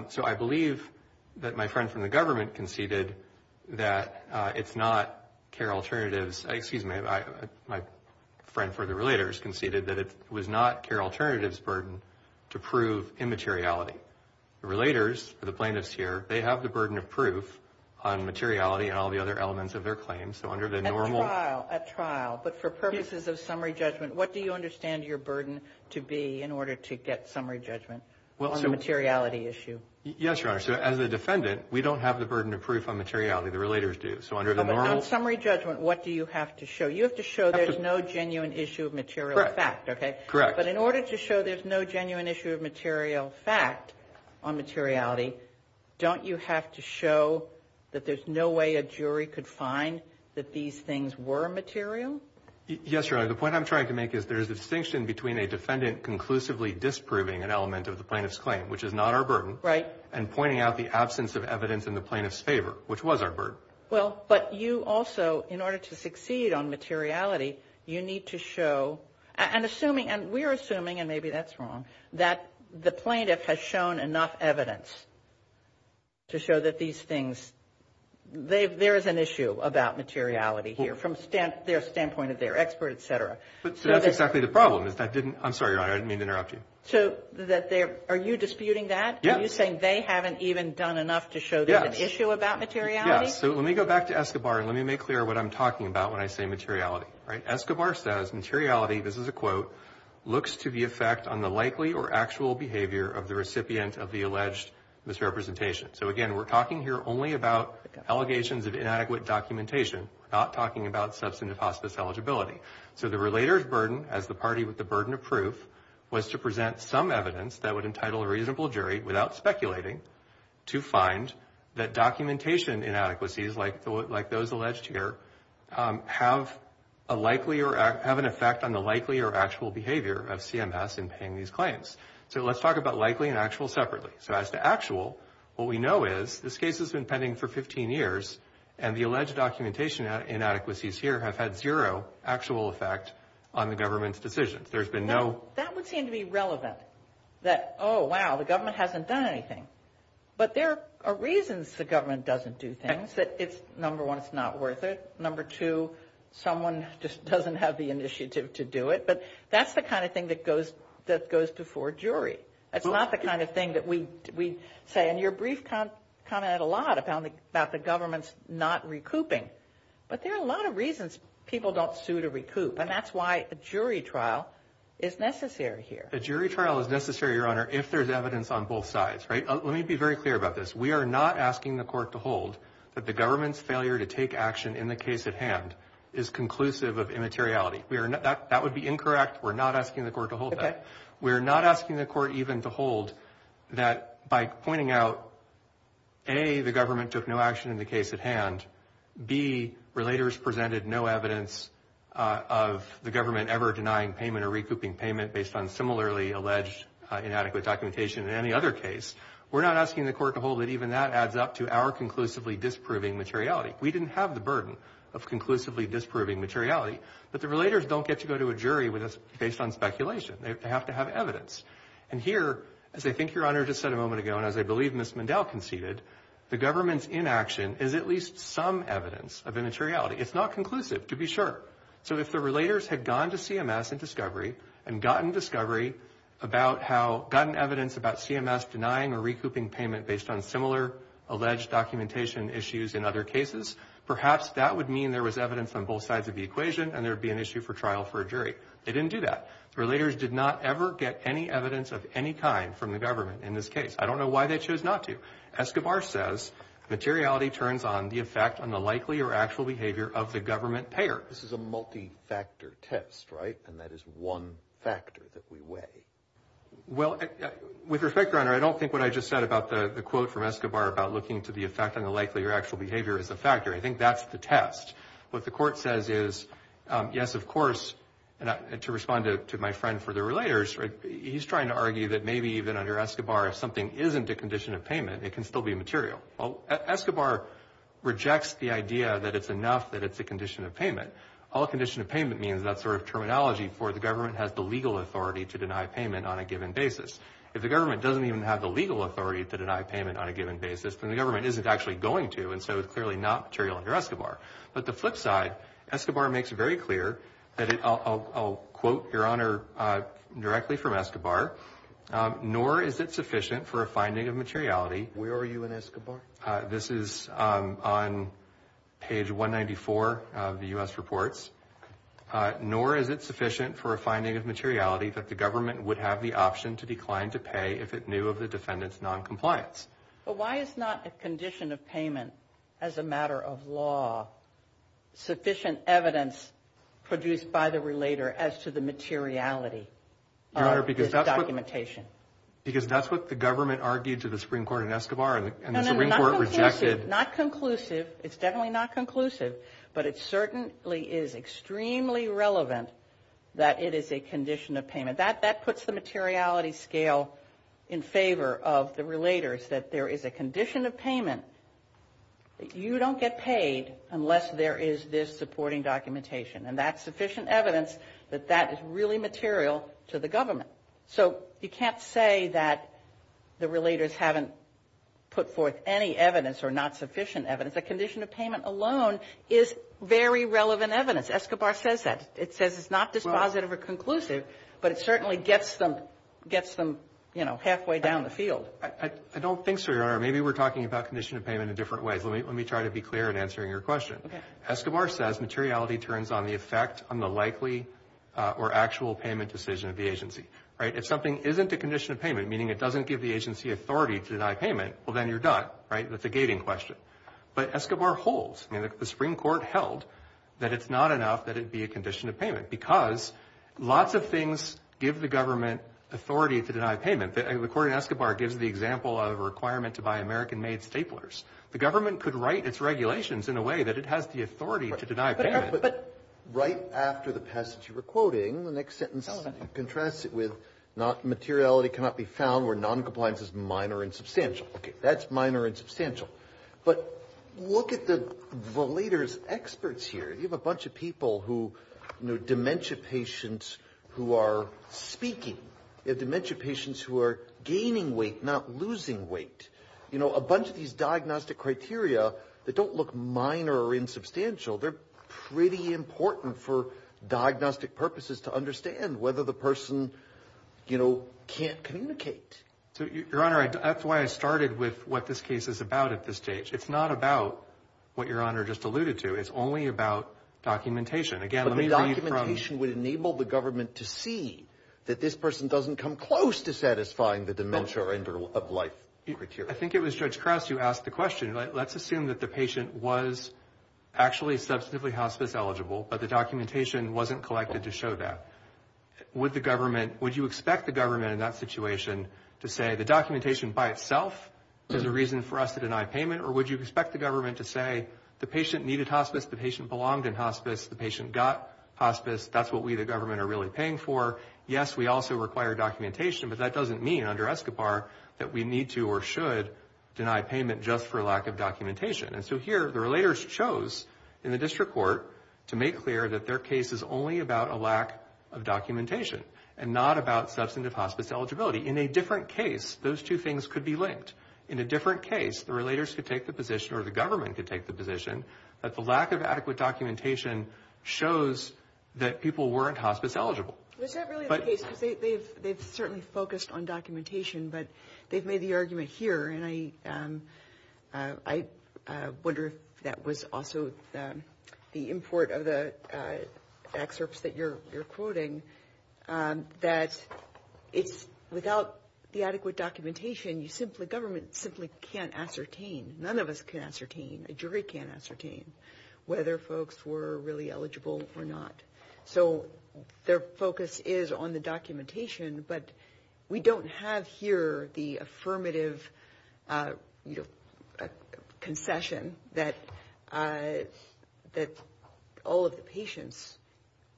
So I believe that my friend from the government conceded that it's not CARE Alternatives, excuse me, my friend for the Relators conceded that it was not CARE Alternatives' burden to prove immateriality. The Relators, the plaintiffs here, they have the burden of proof on materiality and all the other elements of their claims. At trial, but for purposes of summary judgment, what do you understand your burden to be in order to get summary judgment on the materiality issue? Yes, Your Honor. As a defendant, we don't have the burden of proof on materiality. The Relators do. But on summary judgment, what do you have to show? You have to show there's no genuine issue of material fact. Correct. But in order to show there's no genuine issue of material fact on materiality, don't you have to show that there's no way a jury could find that these things were material? Yes, Your Honor. The point I'm trying to make is there's a distinction between a defendant conclusively disproving an element of the plaintiff's claim, which is not our burden, and pointing out the absence of evidence in the plaintiff's favor, which was our burden. Well, but you also, in order to succeed on materiality, you need to show, and we're assuming, and maybe that's wrong, that the plaintiff has shown enough evidence to show that these things, there is an issue about materiality here from their standpoint as they're experts, et cetera. That's exactly the problem. I'm sorry, Your Honor. I didn't mean to interrupt you. Are you disputing that? Are you saying they haven't even done enough to show there's an issue about materiality? Yes. So let me go back to Escobar and let me make clear what I'm talking about when I say materiality. Escobar says materiality, this is a quote, looks to the effect on the likely or actual behavior of the recipient of the alleged misrepresentation. So, again, we're talking here only about allegations of inadequate documentation, not talking about substantive hospice eligibility. So the relator's burden as the party with the burden of proof was to present some evidence that would entitle a reasonable jury, without speculating, to find that documentation inadequacies, like those alleged here, have an effect on the likely or actual behavior of CMS in paying these claims. So let's talk about likely and actual separately. So as to actual, what we know is this case has been pending for 15 years, and the alleged documentation inadequacies here have had zero actual effect on the government's decision. That would seem to be relevant, that, oh, wow, the government hasn't done anything. But there are reasons the government doesn't do things. Number one, it's not worth it. Number two, someone just doesn't have the initiative to do it. But that's the kind of thing that goes before a jury. It's not the kind of thing that we say, and your brief commented a lot about the government's not recouping. But there are a lot of reasons people don't sue to recoup, and that's why a jury trial is necessary here. A jury trial is necessary, Your Honor, if there's evidence on both sides. Let me be very clear about this. We are not asking the court to hold that the government's failure to take action in the case at hand is conclusive of immateriality. That would be incorrect. We're not asking the court to hold that. We're not asking the court even to hold that by pointing out, A, the government took no action in the case at hand, B, relators presented no evidence of the government ever denying payment or recouping payment based on similarly alleged inadequate documentation in any other case. We're not asking the court to hold that even that adds up to our conclusively disproving materiality. We didn't have the burden of conclusively disproving materiality, but the relators don't get to go to a jury based on speculation. They have to have evidence. And here, as I think Your Honor just said a moment ago, and as I believe Ms. Mandel conceded, the government's inaction is at least some evidence of immateriality. It's not conclusive, to be sure. So if the relators had gone to CMS in discovery and gotten discovery about how, gotten evidence about CMS denying or recouping payment based on similar alleged documentation issues in other cases, perhaps that would mean there was evidence on both sides of the equation and there would be an issue for trial for a jury. They didn't do that. Relators did not ever get any evidence of any kind from the government in this case. I don't know why they chose not to. Escobar says materiality turns on the effect on the likely or actual behavior of the government payer. This is a multi-factor test, right? And that is one factor that we weigh. Well, with respect, Your Honor, I don't think what I just said about the quote from Escobar about looking to the effect on the likely or actual behavior is a factor. I think that's the test. What the court says is, yes, of course, and to respond to my friend for the relators, he's trying to argue that maybe even under Escobar, if something isn't a condition of payment, it can still be material. Escobar rejects the idea that it's enough that it's a condition of payment. All condition of payment means that sort of terminology for the government has the legal authority to deny payment on a given basis. If the government doesn't even have the legal authority to deny payment on a given basis, then the government isn't actually going to, and so it's clearly not material under Escobar. But the flip side, Escobar makes it very clear, and I'll quote, Your Honor, directly from Escobar. Nor is it sufficient for a finding of materiality. Where are you in Escobar? This is on page 194 of the U.S. reports. Nor is it sufficient for a finding of materiality that the government would have the option to decline to pay if it knew of the defendant's noncompliance. But why is not a condition of payment as a matter of law sufficient evidence produced by the relator as to the materiality of this documentation? Your Honor, because that's what the government argued to the Supreme Court in Escobar, and the Supreme Court rejected. No, no, no, not conclusive. It's definitely not conclusive, but it certainly is extremely relevant that it is a condition of payment. That puts the materiality scale in favor of the relators, that there is a condition of payment that you don't get paid unless there is this supporting documentation. And that's sufficient evidence that that is really material to the government. So you can't say that the relators haven't put forth any evidence or not sufficient evidence. A condition of payment alone is very relevant evidence. Escobar says that. It says it's not dispositive or conclusive, but it certainly gets them halfway down the field. I don't think so, Your Honor. Maybe we're talking about condition of payment in different ways. Let me try to be clear in answering your question. Escobar says materiality turns on the effect on the likely or actual payment decision of the agency. If something isn't a condition of payment, meaning it doesn't give the agency authority to deny payment, well, then you're done. That's a gating question. But Escobar holds. The Supreme Court held that it's not enough that it be a condition of payment because lots of things give the government authority to deny payment. And according to Escobar, it gives the example of a requirement to buy American-made staplers. The government could write its regulations in a way that it has the authority to deny payment. But right after the passage of your quoting, the next sentence, contrast it with materiality cannot be found where noncompliance is minor and substantial. Okay, that's minor and substantial. But look at the leader's experts here. You have a bunch of people who are dementia patients who are speaking. You have dementia patients who are gaining weight, not losing weight. You know, a bunch of these diagnostic criteria that don't look minor or insubstantial, they're pretty important for diagnostic purposes to understand whether the person, you know, can't communicate. Your Honor, that's why I started with what this case is about at this stage. It's not about what Your Honor just alluded to. It's only about documentation. But the documentation would enable the government to see that this person doesn't come close to satisfying the dementia or end-of-life criteria. I think it was Judge Krause who asked the question. Let's assume that the patient was actually substantively hospice-eligible, but the documentation wasn't collected to show that. Would you expect the government in that situation to say the documentation by itself is a reason for us to deny payment? Or would you expect the government to say the patient needed hospice, the patient belonged in hospice, the patient got hospice, that's what we, the government, are really paying for? Yes, we also require documentation, but that doesn't mean under ESCOBAR that we need to And so here, the relators chose in the district court to make clear that their case is only about a lack of documentation and not about substantive hospice eligibility. In a different case, those two things could be linked. In a different case, the relators could take the position or the government could take the position that the lack of adequate documentation shows that people weren't hospice-eligible. They've certainly focused on documentation, but they've made the argument here, and I wonder if that was also the import of the excerpts that you're quoting, that without the adequate documentation, the government simply can't ascertain, none of us can ascertain, a jury can't ascertain whether folks were really eligible or not. So their focus is on the documentation, but we don't have here the affirmative concession that all of the patients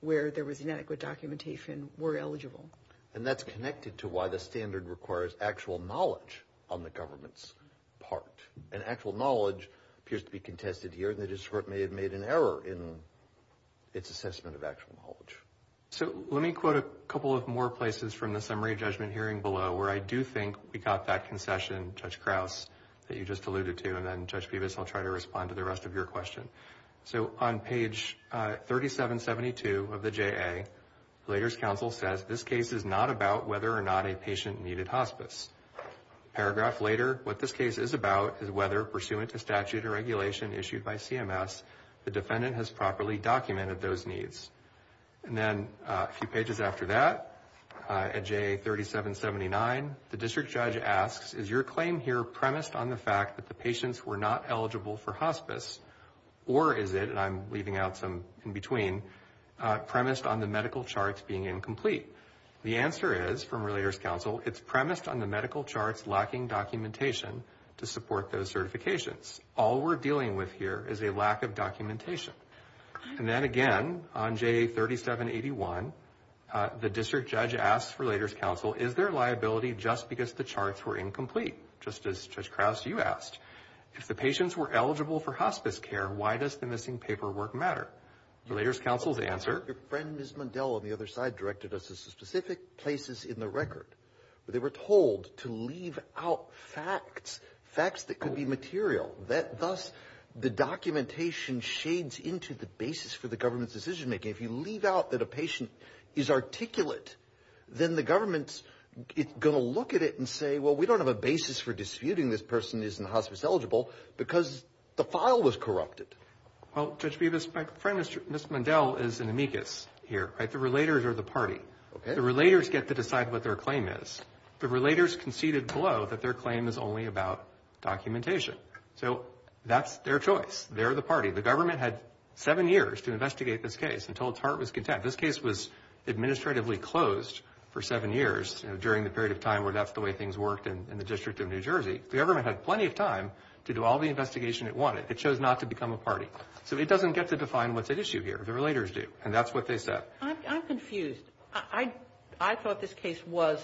where there was inadequate documentation were eligible. And that's connected to why the standard requires actual knowledge on the government's part. And actual knowledge appears to be contested here, and the district court may have made an error in its assessment of actual knowledge. So let me quote a couple of more places from the summary judgment hearing below, where I do think we got that concession, Judge Krause, that you just alluded to, and then Judge Peeves, I'll try to respond to the rest of your question. So on page 3772 of the JA, the Relators Council says, this case is not about whether or not a patient needed hospice. A paragraph later, what this case is about is whether, pursuant to statute or regulation issued by CMS, the defendant has properly documented those needs. And then a few pages after that, at JA 3779, the district judge asks, is your claim here premised on the fact that the patients were not eligible for hospice, or is it, and I'm leaving out some in between, premised on the medical charts being incomplete? The answer is, from Relators Council, it's premised on the medical charts lacking documentation to support those certifications. All we're dealing with here is a lack of documentation. And then again, on JA 3781, the district judge asks Relators Council, is there liability just because the charts were incomplete, just as Judge Krause, you asked. If the patients were eligible for hospice care, why does the missing paperwork matter? Relators Council's answer. Your friend, Ms. Mundell, on the other side, directed us to specific places in the record. They were told to leave out facts, facts that could be material. Thus, the documentation shades into the basis for the government's decision-making. If you leave out that a patient is articulate, then the government's going to look at it and say, well, we don't have a basis for disputing this person isn't hospice-eligible because the file was corrupted. Well, Judge Bevis, my friend, Ms. Mundell, is an amicus here. The Relators are the party. The Relators get to decide what their claim is. The Relators conceded below that their claim is only about documentation. So that's their choice. They're the party. The government had seven years to investigate this case until its heart was content. This case was administratively closed for seven years during the period of time where that's the way things worked in the District of New Jersey. The government had plenty of time to do all the investigation it wanted. It chose not to become a party. So it doesn't get to define what's at issue here. The Relators do. And that's what they said. I'm confused. I thought this case was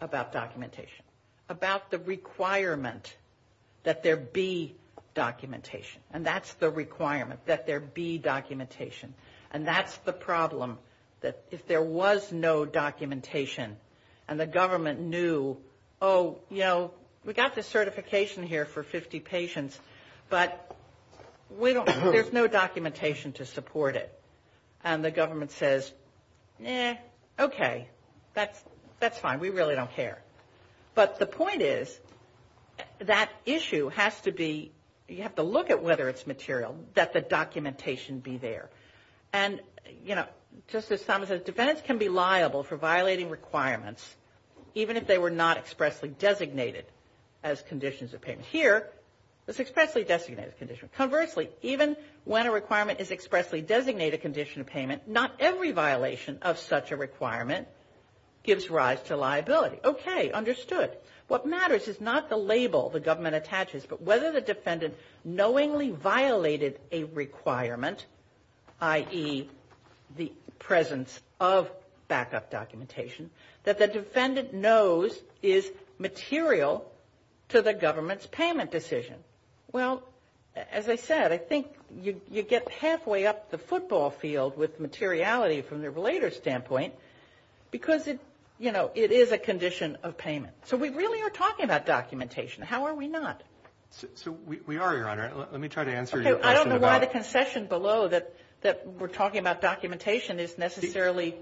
about documentation, about the requirement that there be documentation. And that's the requirement, that there be documentation. And that's the problem, that if there was no documentation and the government knew, oh, you know, we got the certification here for 50 patients, but there's no documentation to support it. And the government says, eh, okay, that's fine. We really don't care. But the point is that issue has to be, you have to look at whether it's material, that the documentation be there. And, you know, just as Solomon says, defendants can be liable for violating requirements, even if they were not expressly designated as conditions of payment. Here, it's expressly designated as conditions of payment. Conversely, even when a requirement is expressly designated condition of payment, not every violation of such a requirement gives rise to liability. Okay, understood. What matters is not the label the government attaches, but whether the defendant knowingly violated a requirement, i.e., the presence of backup documentation, that the defendant knows is material to the government's payment decision. Well, as I said, I think you get halfway up the football field with materiality from the later standpoint, because, you know, it is a condition of payment. So we really are talking about documentation. How are we not? So we are, Your Honor. Let me try to answer your question. Okay, I don't know why the confession below that we're talking about documentation is necessarily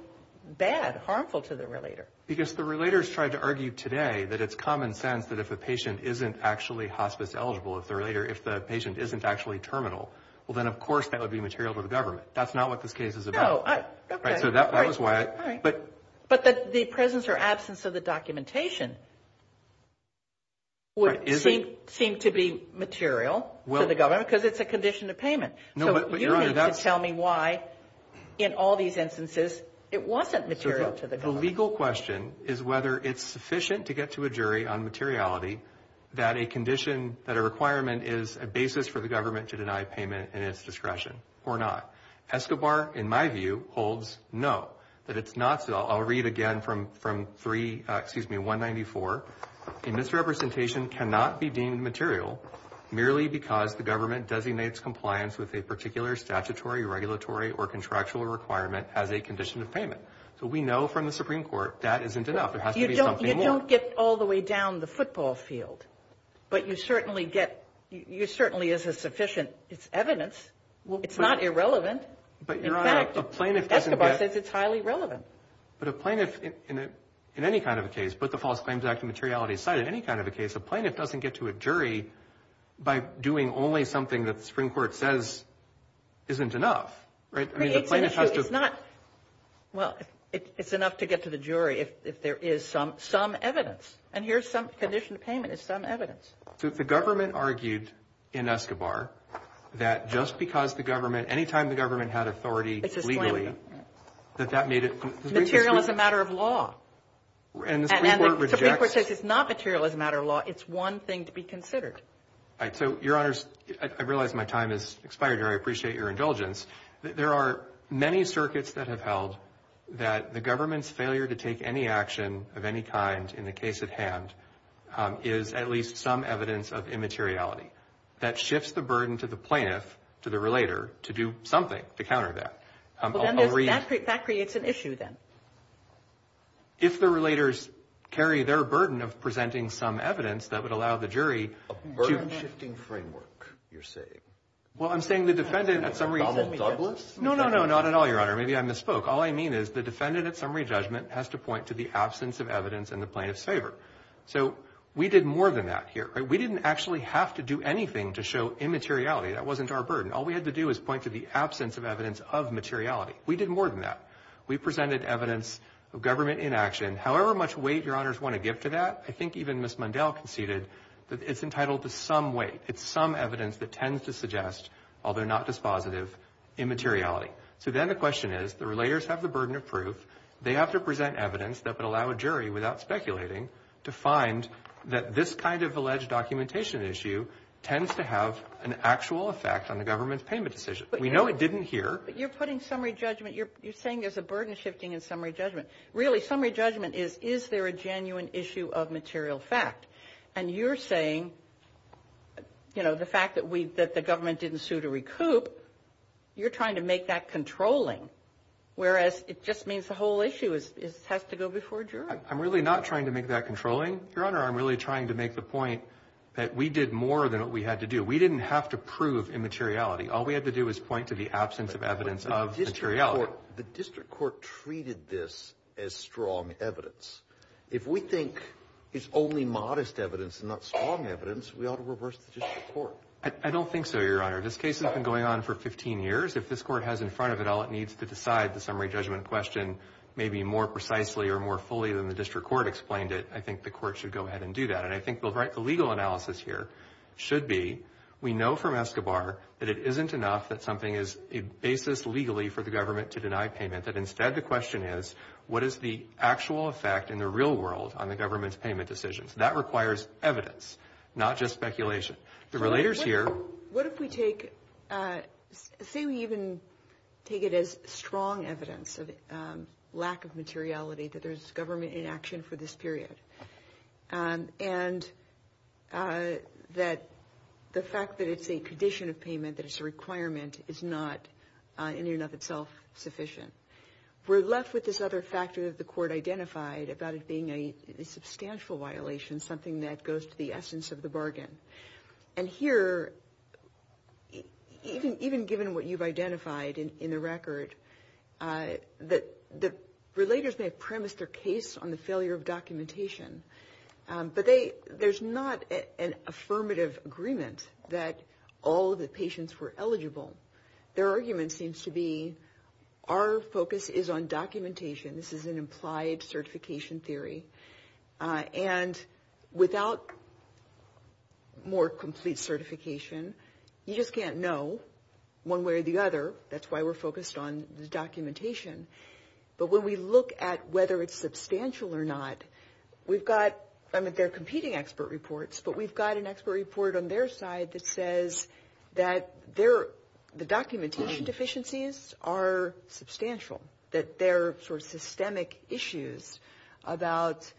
bad, harmful to the relator. Because the relators tried to argue today that it's common sense that if a patient isn't actually hospice-eligible, if the patient isn't actually terminal, well then, of course, that would be material to the government. That's not what this case is about. Oh, okay. So that was why. All right. But the presence or absence of the documentation would seem to be material to the government, because it's a condition of payment. So you need to tell me why, in all these instances, it wasn't material to the government. The legal question is whether it's sufficient to get to a jury on materiality that a condition, that a requirement is a basis for the government to deny payment in its discretion or not. Escobar, in my view, holds no, that it's not so. I'll read again from 3, excuse me, 194. A misrepresentation cannot be deemed material merely because the government designates compliance with a particular statutory, regulatory, or contractual requirement as a condition of payment. So we know from the Supreme Court that isn't enough. There has to be something more. You don't get all the way down the football field, but you certainly get, you certainly is a sufficient evidence. It's not irrelevant. But Your Honor, a plaintiff doesn't get. Escobar says it's highly relevant. But a plaintiff, in any kind of a case, but the False Claims Act and materiality aside, in any kind of a case, a plaintiff doesn't get to a jury by doing only something that the Supreme Court says isn't enough. Right? Well, it's enough to get to the jury if there is some evidence. And here's some condition of payment. It's some evidence. The government argued in Escobar that just because the government, anytime the government had authority legally, that that made it material as a matter of law. And the Supreme Court rejects. And the Supreme Court says it's not material as a matter of law. It's one thing to be considered. So, Your Honors, I realize my time has expired, and I appreciate your indulgence. There are many circuits that have held that the government's failure to take any action of any kind in the case at hand is at least some evidence of immateriality. That shifts the burden to the plaintiff, to the relator, to do something to counter that. That creates an issue then. If the relators carry their burden of presenting some evidence that would allow the jury to A burden-shifting framework, you're saying. Well, I'm saying the defendant at some Donald Douglas? No, no, no, not at all, Your Honor. Maybe I misspoke. All I mean is the defendant at summary judgment has to point to the absence of evidence in the plaintiff's favor. So we did more than that here. We didn't actually have to do anything to show immateriality. That wasn't our burden. All we had to do was point to the absence of evidence of materiality. We did more than that. We presented evidence of government inaction. However much weight Your Honors want to give to that, I think even Ms. Mundell conceded that it's entitled to some weight. It's some evidence that tends to suggest, although not dispositive, immateriality. So then the question is, the relators have the burden of proof. They have to present evidence that would allow a jury, without speculating, to find that this kind of alleged documentation issue tends to have an actual effect on the government's payment decision. We know it didn't here. You're putting summary judgment. You're saying there's a burden-shifting in summary judgment. Really, summary judgment is, is there a genuine issue of material fact? And you're saying, you know, the fact that the government didn't sue to recoup, you're trying to make that controlling, whereas it just means the whole issue has to go before a jury. I'm really not trying to make that controlling, Your Honor. I'm really trying to make the point that we did more than what we had to do. We didn't have to prove immateriality. All we had to do was point to the absence of evidence of materiality. The district court treated this as strong evidence. If we think it's only modest evidence and not strong evidence, we ought to reverse the district court. I don't think so, Your Honor. This case has been going on for 15 years. If this court has in front of it all it needs to decide the summary judgment question maybe more precisely or more fully than the district court explained it, I think the court should go ahead and do that. And I think the legal analysis here should be we know from Escobar that it isn't enough that something is a basis legally for the government to deny payment, that instead the question is what is the actual effect in the real world on the government's payment decisions? That requires evidence, not just speculation. What if we take, say we even take it as strong evidence of lack of materiality, that there's government inaction for this period, and that the fact that it's a condition of payment, that it's a requirement, is not in and of itself sufficient. We're left with this other factor that the court identified about it being a substantial violation, something that goes to the essence of the bargain. And here, even given what you've identified in the record, the relators may have premised their case on the failure of documentation, but there's not an affirmative agreement that all of the patients were eligible. Their argument seems to be our focus is on documentation. This is an implied certification theory. And without more complete certification, you just can't know one way or the other. That's why we're focused on the documentation. But when we look at whether it's substantial or not, we've got, I mean, they're competing expert reports, but we've got an expert report on their side that says that the documentation deficiencies are substantial. That there are sort of systemic issues about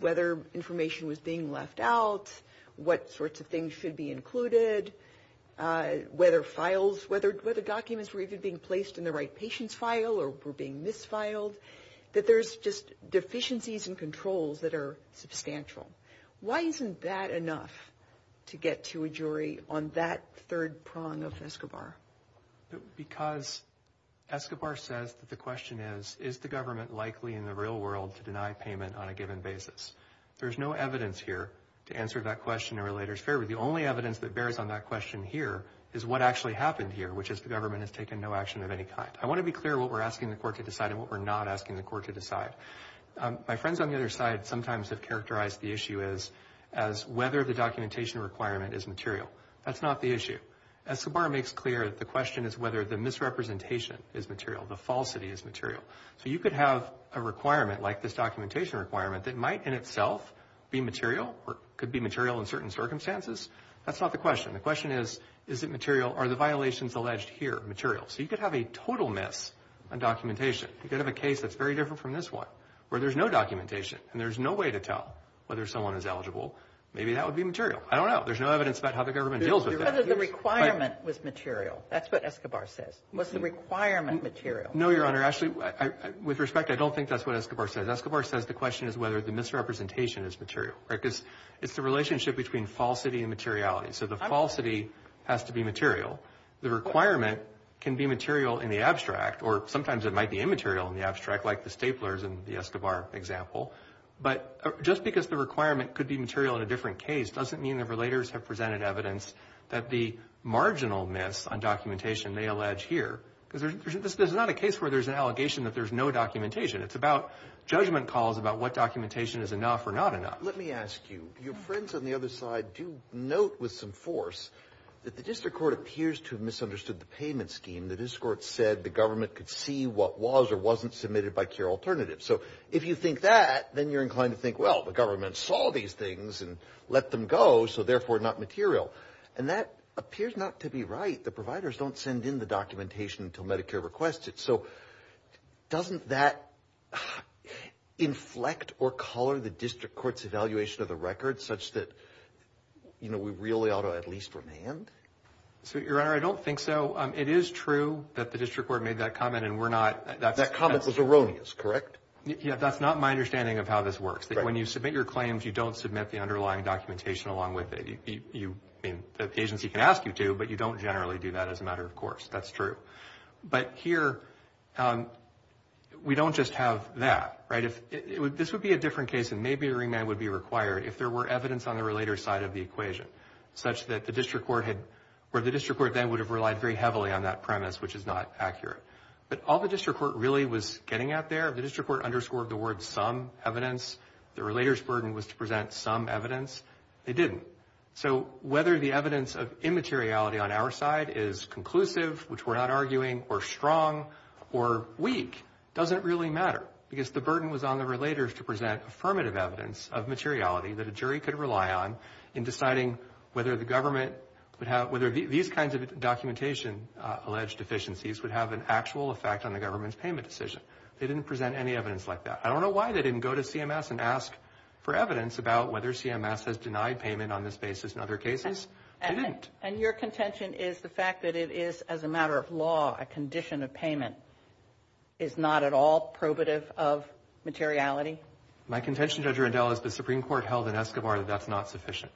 whether information was being left out, what sorts of things should be included, whether files, whether documents were even being placed in the right patient's file or were being mis-filed, that there's just deficiencies in controls that are substantial. Why isn't that enough to get to a jury on that third prong of Escobar? Because Escobar says that the question is, is the government likely in the real world to deny payment on a given basis? There's no evidence here to answer that question to relators. Fairly, the only evidence that bears on that question here is what actually happened here, which is the government has taken no action of any kind. I want to be clear what we're asking the court to decide and what we're not asking the court to decide. My friends on the other side sometimes have characterized the issue as whether the documentation requirement is material. That's not the issue. Escobar makes clear that the question is whether the misrepresentation is material, the falsity is material. So you could have a requirement like this documentation requirement that might in itself be material or could be material in certain circumstances. That's not the question. The question is, is it material? Are the violations alleged here material? So you could have a total miss on documentation. You could have a case that's very different from this one where there's no documentation and there's no way to tell whether someone is eligible. Maybe that would be material. I don't know. There's no evidence about how the government deals with that. Whether the requirement was material. That's what Escobar says. Was the requirement material? No, Your Honor. Actually, with respect, I don't think that's what Escobar says. Escobar says the question is whether the misrepresentation is material because it's the relationship between falsity and materiality. So the falsity has to be material. The requirement can be material in the abstract or sometimes it might be immaterial in the abstract like the staplers in the Escobar example. But just because the requirement could be material in a different case doesn't mean the relators have presented evidence that the marginal miss on documentation may allege here. This is not a case where there's an allegation that there's no documentation. It's about judgment calls about what documentation is enough or not enough. Let me ask you. Your friends on the other side do note with some force that the district court appears to have misunderstood the payment scheme. The district court said the government could see what was or wasn't submitted by CARE Alternatives. So if you think that, then you're inclined to think, well, the government saw these things and let them go, so therefore not material. And that appears not to be right. The providers don't send in the documentation until Medicare requests it. So doesn't that inflect or color the district court's evaluation of the record such that, you know, we really ought to at least remand? Your Honor, I don't think so. It is true that the district court made that comment, and we're not – That comment was erroneous, correct? Yeah, that's not my understanding of how this works. When you submit your claims, you don't submit the underlying documentation along with it. The agency can ask you to, but you don't generally do that as a matter of course. That's true. But here, we don't just have that, right? This would be a different case, and maybe a remand would be required if there were evidence on the relator's side of the equation, where the district court then would have relied very heavily on that premise, which is not accurate. But all the district court really was getting at there, the district court underscored the word some evidence. The relator's burden was to present some evidence. They didn't. So whether the evidence of immateriality on our side is conclusive, which we're not arguing, or strong, or weak, doesn't really matter. Because the burden was on the relator to present affirmative evidence of materiality that a jury could rely on in deciding whether the government – whether these kinds of documentation-alleged deficiencies would have an actual effect on the government's payment decision. They didn't present any evidence like that. I don't know why they didn't go to CMS and ask for evidence about whether CMS has denied payment on this basis in other cases. They didn't. And your contention is the fact that it is, as a matter of law, a condition of payment, is not at all probative of materiality? My contention, Judge Rendell, is the Supreme Court held in Escobar that that's not sufficient.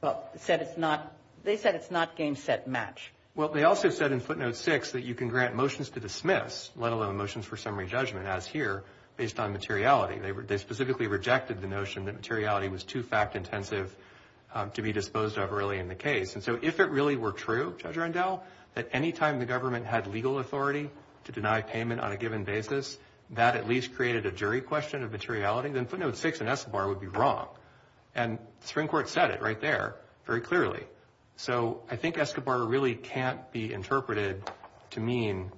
Well, they said it's not game, set, match. Well, they also said in footnote 6 that you can grant motions to dismiss, let alone motions for summary judgment, as here, based on materiality. They specifically rejected the notion that materiality was too fact-intensive to be disposed of early in the case. And so if it really were true, Judge Rendell, that any time the government had legal authority to deny payment on a given basis, that at least created a jury question of materiality, then footnote 6 in Escobar would be wrong. And the Supreme Court said it right there very clearly. So I think Escobar really can't be interpreted to mean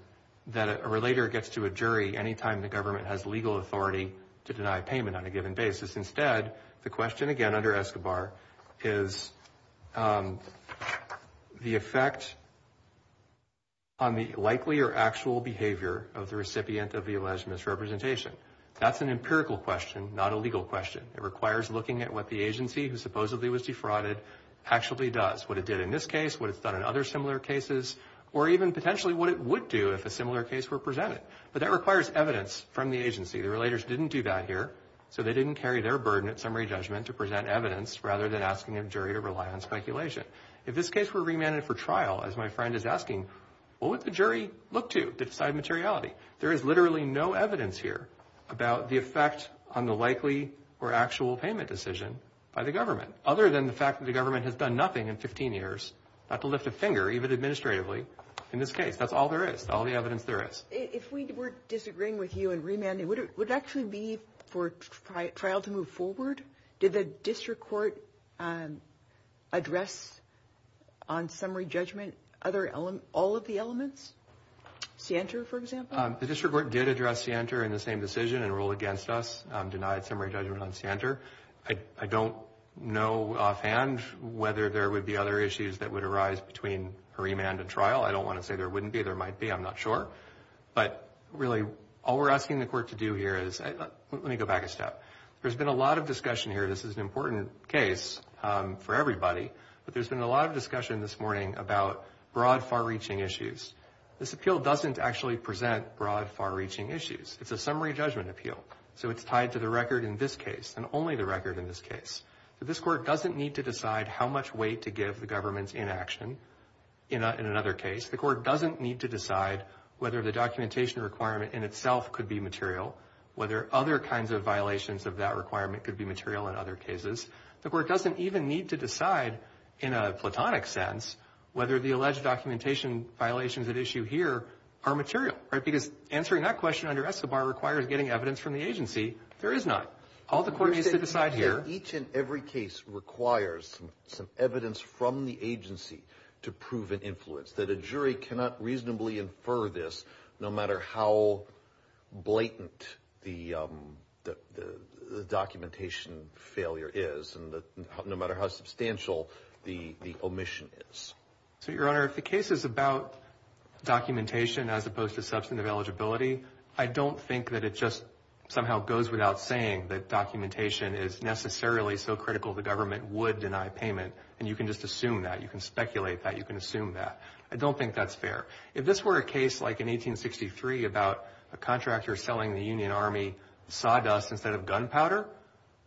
that a relator gets to a jury any time the government has legal authority to deny payment on a given basis. Instead, the question again under Escobar is the effect on the likely or actual behavior of the recipient of the alleged misrepresentation. That's an empirical question, not a legal question. It requires looking at what the agency, who supposedly was defrauded, actually does. What it did in this case, what it's done in other similar cases, or even potentially what it would do if a similar case were presented. But that requires evidence from the agency. The relators didn't do that here, so they didn't carry their burden at summary judgment to present evidence rather than asking a jury to rely on speculation. If this case were remanded for trial, as my friend is asking, what would the jury look to beside materiality? There is literally no evidence here about the effect on the likely or actual payment decision by the government, other than the fact that the government has done nothing in 15 years, not to lift a finger, even administratively, in this case. That's all there is, all the evidence there is. If we were disagreeing with you in remanding, would it actually be for trial to move forward? Did the district court address on summary judgment all of the elements? Scienter, for example? The district court did address Scienter in the same decision and ruled against us, denied summary judgment on Scienter. I don't know offhand whether there would be other issues that would arise between remand and trial. I don't want to say there wouldn't be. There might be. I'm not sure. But really, all we're asking the court to do here is – let me go back a step. There's been a lot of discussion here. This is an important case for everybody, but there's been a lot of discussion this morning about broad, far-reaching issues. This appeal doesn't actually present broad, far-reaching issues. It's a summary judgment appeal, so it's tied to the record in this case and only the record in this case. This court doesn't need to decide how much weight to give the government's inaction in another case. The court doesn't need to decide whether the documentation requirement in itself could be material, whether other kinds of violations of that requirement could be material in other cases. The court doesn't even need to decide in a platonic sense whether the alleged documentation violations at issue here are material. Because answering that question under ESSABAR requires getting evidence from the agency. There is not. Each and every case requires some evidence from the agency to prove an influence, that a jury cannot reasonably infer this no matter how blatant the documentation failure is, no matter how substantial the omission is. Your Honor, if the case is about documentation as opposed to substantive eligibility, I don't think that it just somehow goes without saying that documentation is necessarily so critical the government would deny payment. And you can just assume that. You can speculate that. You can assume that. I don't think that's fair. If this were a case like in 1863 about a contractor selling the Union Army sawdust instead of gunpowder,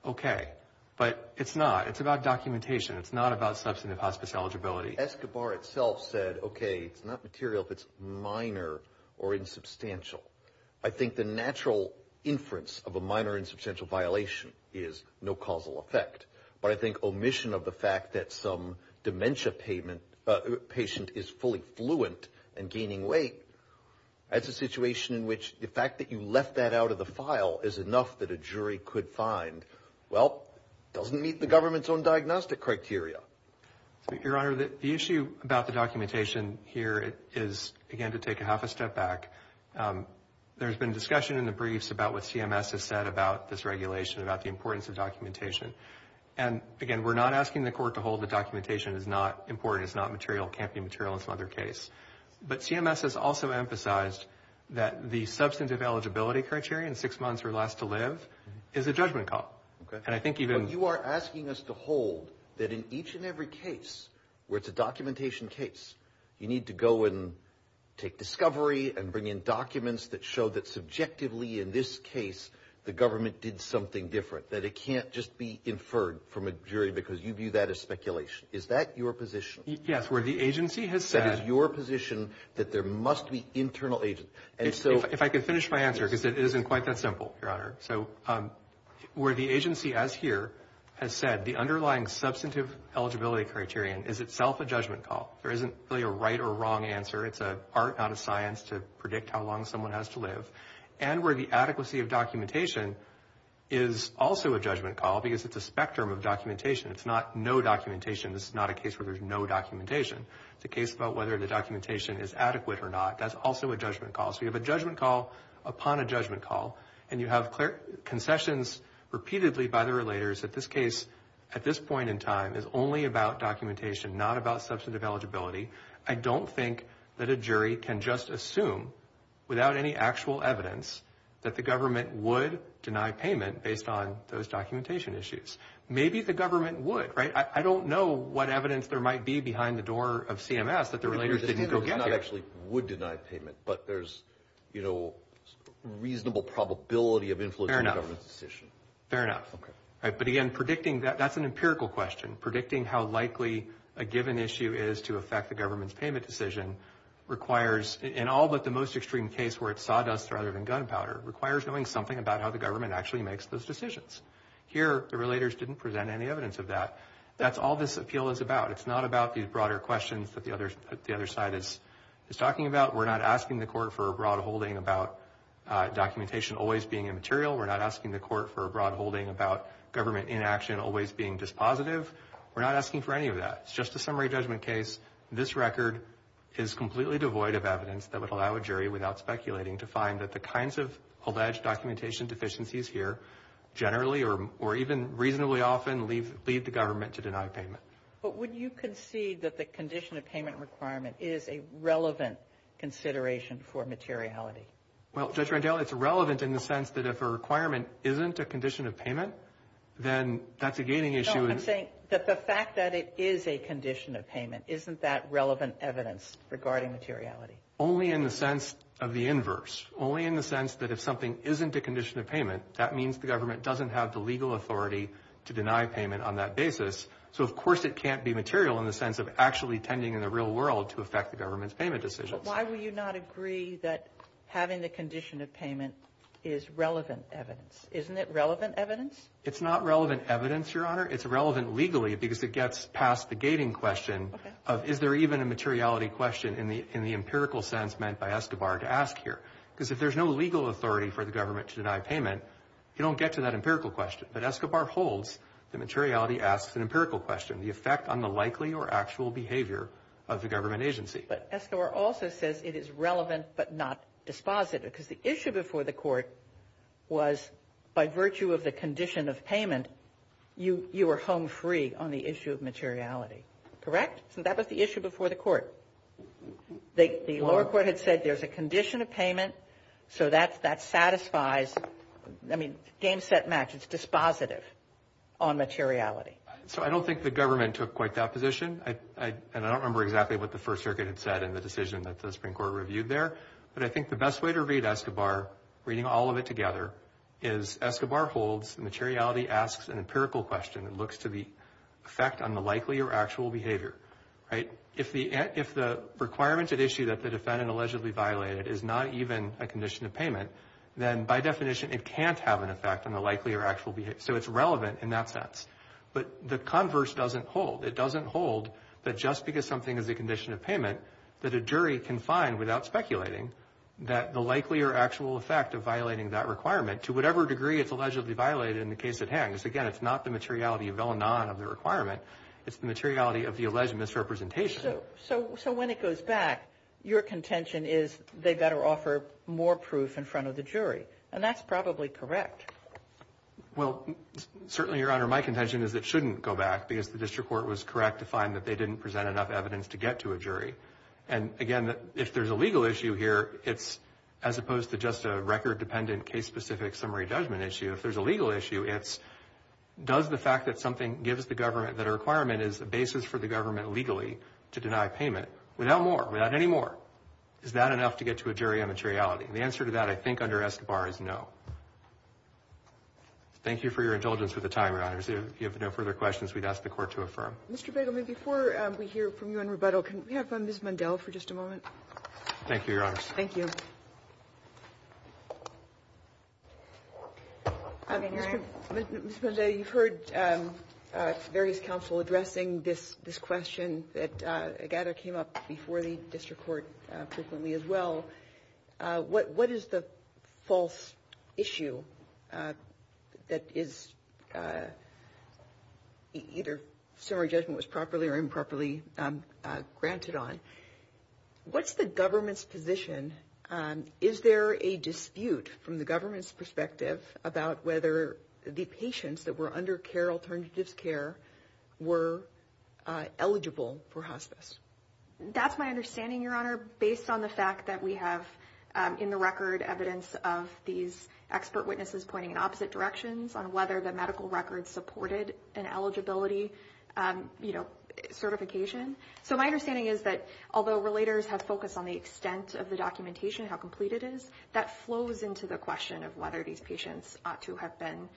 okay. But it's not. It's about documentation. It's not about substantive hospice eligibility. ESSABAR itself said, okay, it's not material if it's minor or insubstantial. I think the natural inference of a minor insubstantial violation is no causal effect. But I think omission of the fact that some dementia patient is fully fluent and gaining weight, that's a situation in which the fact that you left that out of the file is enough that a jury could find, well, doesn't meet the government's own diagnostic criteria. Your Honor, the issue about the documentation here is, again, to take a half a step back. There's been discussion in the briefs about what CMS has said about this regulation, about the importance of documentation. And, again, we're not asking the court to hold that documentation is not important, is not material, can't be material in some other case. But CMS has also emphasized that the substantive eligibility criteria in six months or less to live is a judgment call. You are asking us to hold that in each and every case where it's a documentation case, you need to go and take discovery and bring in documents that show that subjectively in this case the government did something different, that it can't just be inferred from a jury because you view that as speculation. Is that your position? Yes, where the agency has said. That is your position that there must be internal agents. If I could finish my answer because it isn't quite that simple, Your Honor. So where the agency, as here, has said, the underlying substantive eligibility criterion is itself a judgment call. There isn't really a right or wrong answer. It's a part out of science to predict how long someone has to live. And where the adequacy of documentation is also a judgment call because it's a spectrum of documentation. It's not no documentation. This is not a case where there's no documentation. It's a case about whether the documentation is adequate or not. That's also a judgment call. So you have a judgment call upon a judgment call, and you have concessions repeatedly by the relators that this case, at this point in time, is only about documentation, not about substantive eligibility. I don't think that a jury can just assume without any actual evidence that the government would deny payment based on those documentation issues. Maybe the government would, right? I don't know what evidence there might be behind the door of CMS that the relators didn't go get you. The government actually would deny payment, but there's, you know, reasonable probability of influencing the government's decision. Fair enough. But again, predicting that, that's an empirical question. Predicting how likely a given issue is to affect the government's payment decision requires, in all but the most extreme case where it's sawdust rather than gunpowder, requires knowing something about how the government actually makes those decisions. Here, the relators didn't present any evidence of that. That's all this appeal is about. It's not about these broader questions that the other side is talking about. We're not asking the court for a broad holding about documentation always being immaterial. We're not asking the court for a broad holding about government inaction always being dispositive. We're not asking for any of that. It's just a summary judgment case. This record is completely devoid of evidence that would allow a jury, without speculating, to find that the kinds of alleged documentation deficiencies here generally or even reasonably often lead the government to deny payment. But would you concede that the condition of payment requirement is a relevant consideration for materiality? Well, Judge Randell, it's relevant in the sense that if a requirement isn't a condition of payment, then that's a gating issue. No, I'm saying that the fact that it is a condition of payment, isn't that relevant evidence regarding materiality? Only in the sense of the inverse. Only in the sense that if something isn't a condition of payment, that means the government doesn't have the legal authority to deny payment on that basis. So, of course, it can't be material in the sense of actually tending in the real world to affect the government's payment decision. But why would you not agree that having the condition of payment is relevant evidence? Isn't it relevant evidence? It's not relevant evidence, Your Honor. It's relevant legally because it gets past the gating question of is there even a materiality question in the empirical sense meant by Escobar to ask here? Because if there's no legal authority for the government to deny payment, you don't get to that empirical question. But Escobar holds that materiality asks an empirical question, the effect on the likely or actual behavior of the government agency. But Escobar also says it is relevant but not dispositive, because the issue before the court was by virtue of the condition of payment, you were home free on the issue of materiality, correct? So that was the issue before the court. The lower court had said there's a condition of payment, so that satisfies, I mean, game, set, match. It's dispositive on materiality. So I don't think the government took quite that position, and I don't remember exactly what the First Circuit had said in the decision that the Supreme Court reviewed there. But I think the best way to read Escobar, reading all of it together, is Escobar holds materiality asks an empirical question. It looks to the effect on the likely or actual behavior, right? If the requirements at issue that the defendant allegedly violated is not even a condition of payment, then by definition it can't have an effect on the likely or actual behavior. So it's relevant in that sense. But the converse doesn't hold. It doesn't hold that just because something is a condition of payment that a jury can find without speculating that the likely or actual effect of violating that requirement, to whatever degree it's allegedly violated in the case at hand, because, again, it's not the materiality of all non of the requirement. It's the materiality of the alleged misrepresentation. So when it goes back, your contention is they better offer more proof in front of the jury. And that's probably correct. Well, certainly, Your Honor, my contention is it shouldn't go back, because the district court was correct to find that they didn't present enough evidence to get to a jury. And, again, if there's a legal issue here, it's, as opposed to just a record-dependent, case-specific summary judgment issue, if there's a legal issue, it's does the fact that something gives the government that a requirement is a basis for the government legally to deny a payment, without more, without any more, is that enough to get to a jury on materiality? And the answer to that, I think, under ESCBAR is no. Thank you for your intelligence for the time, Your Honors. If you have no further questions, we'd ask the court to affirm. Mr. Begley, before we hear from you in rebuttal, can we have Ms. Mundell for just a moment? Thank you, Your Honors. Thank you. Ms. Mundell, you've heard various counsel addressing this question that I gather came up before the district court as well. What is the false issue that is either summary judgment was properly or improperly granted on? What's the government's position? Is there a dispute from the government's perspective about whether the patients that were under care alternative care were eligible for hospice? That's my understanding, Your Honor, based on the fact that we have in the record evidence of these expert witnesses pointing in opposite directions on whether the medical record supported an eligibility certification. So my understanding is that although relators have focused on the extent of the documentation, how complete it is, that flows into the question of whether these patients ought to have been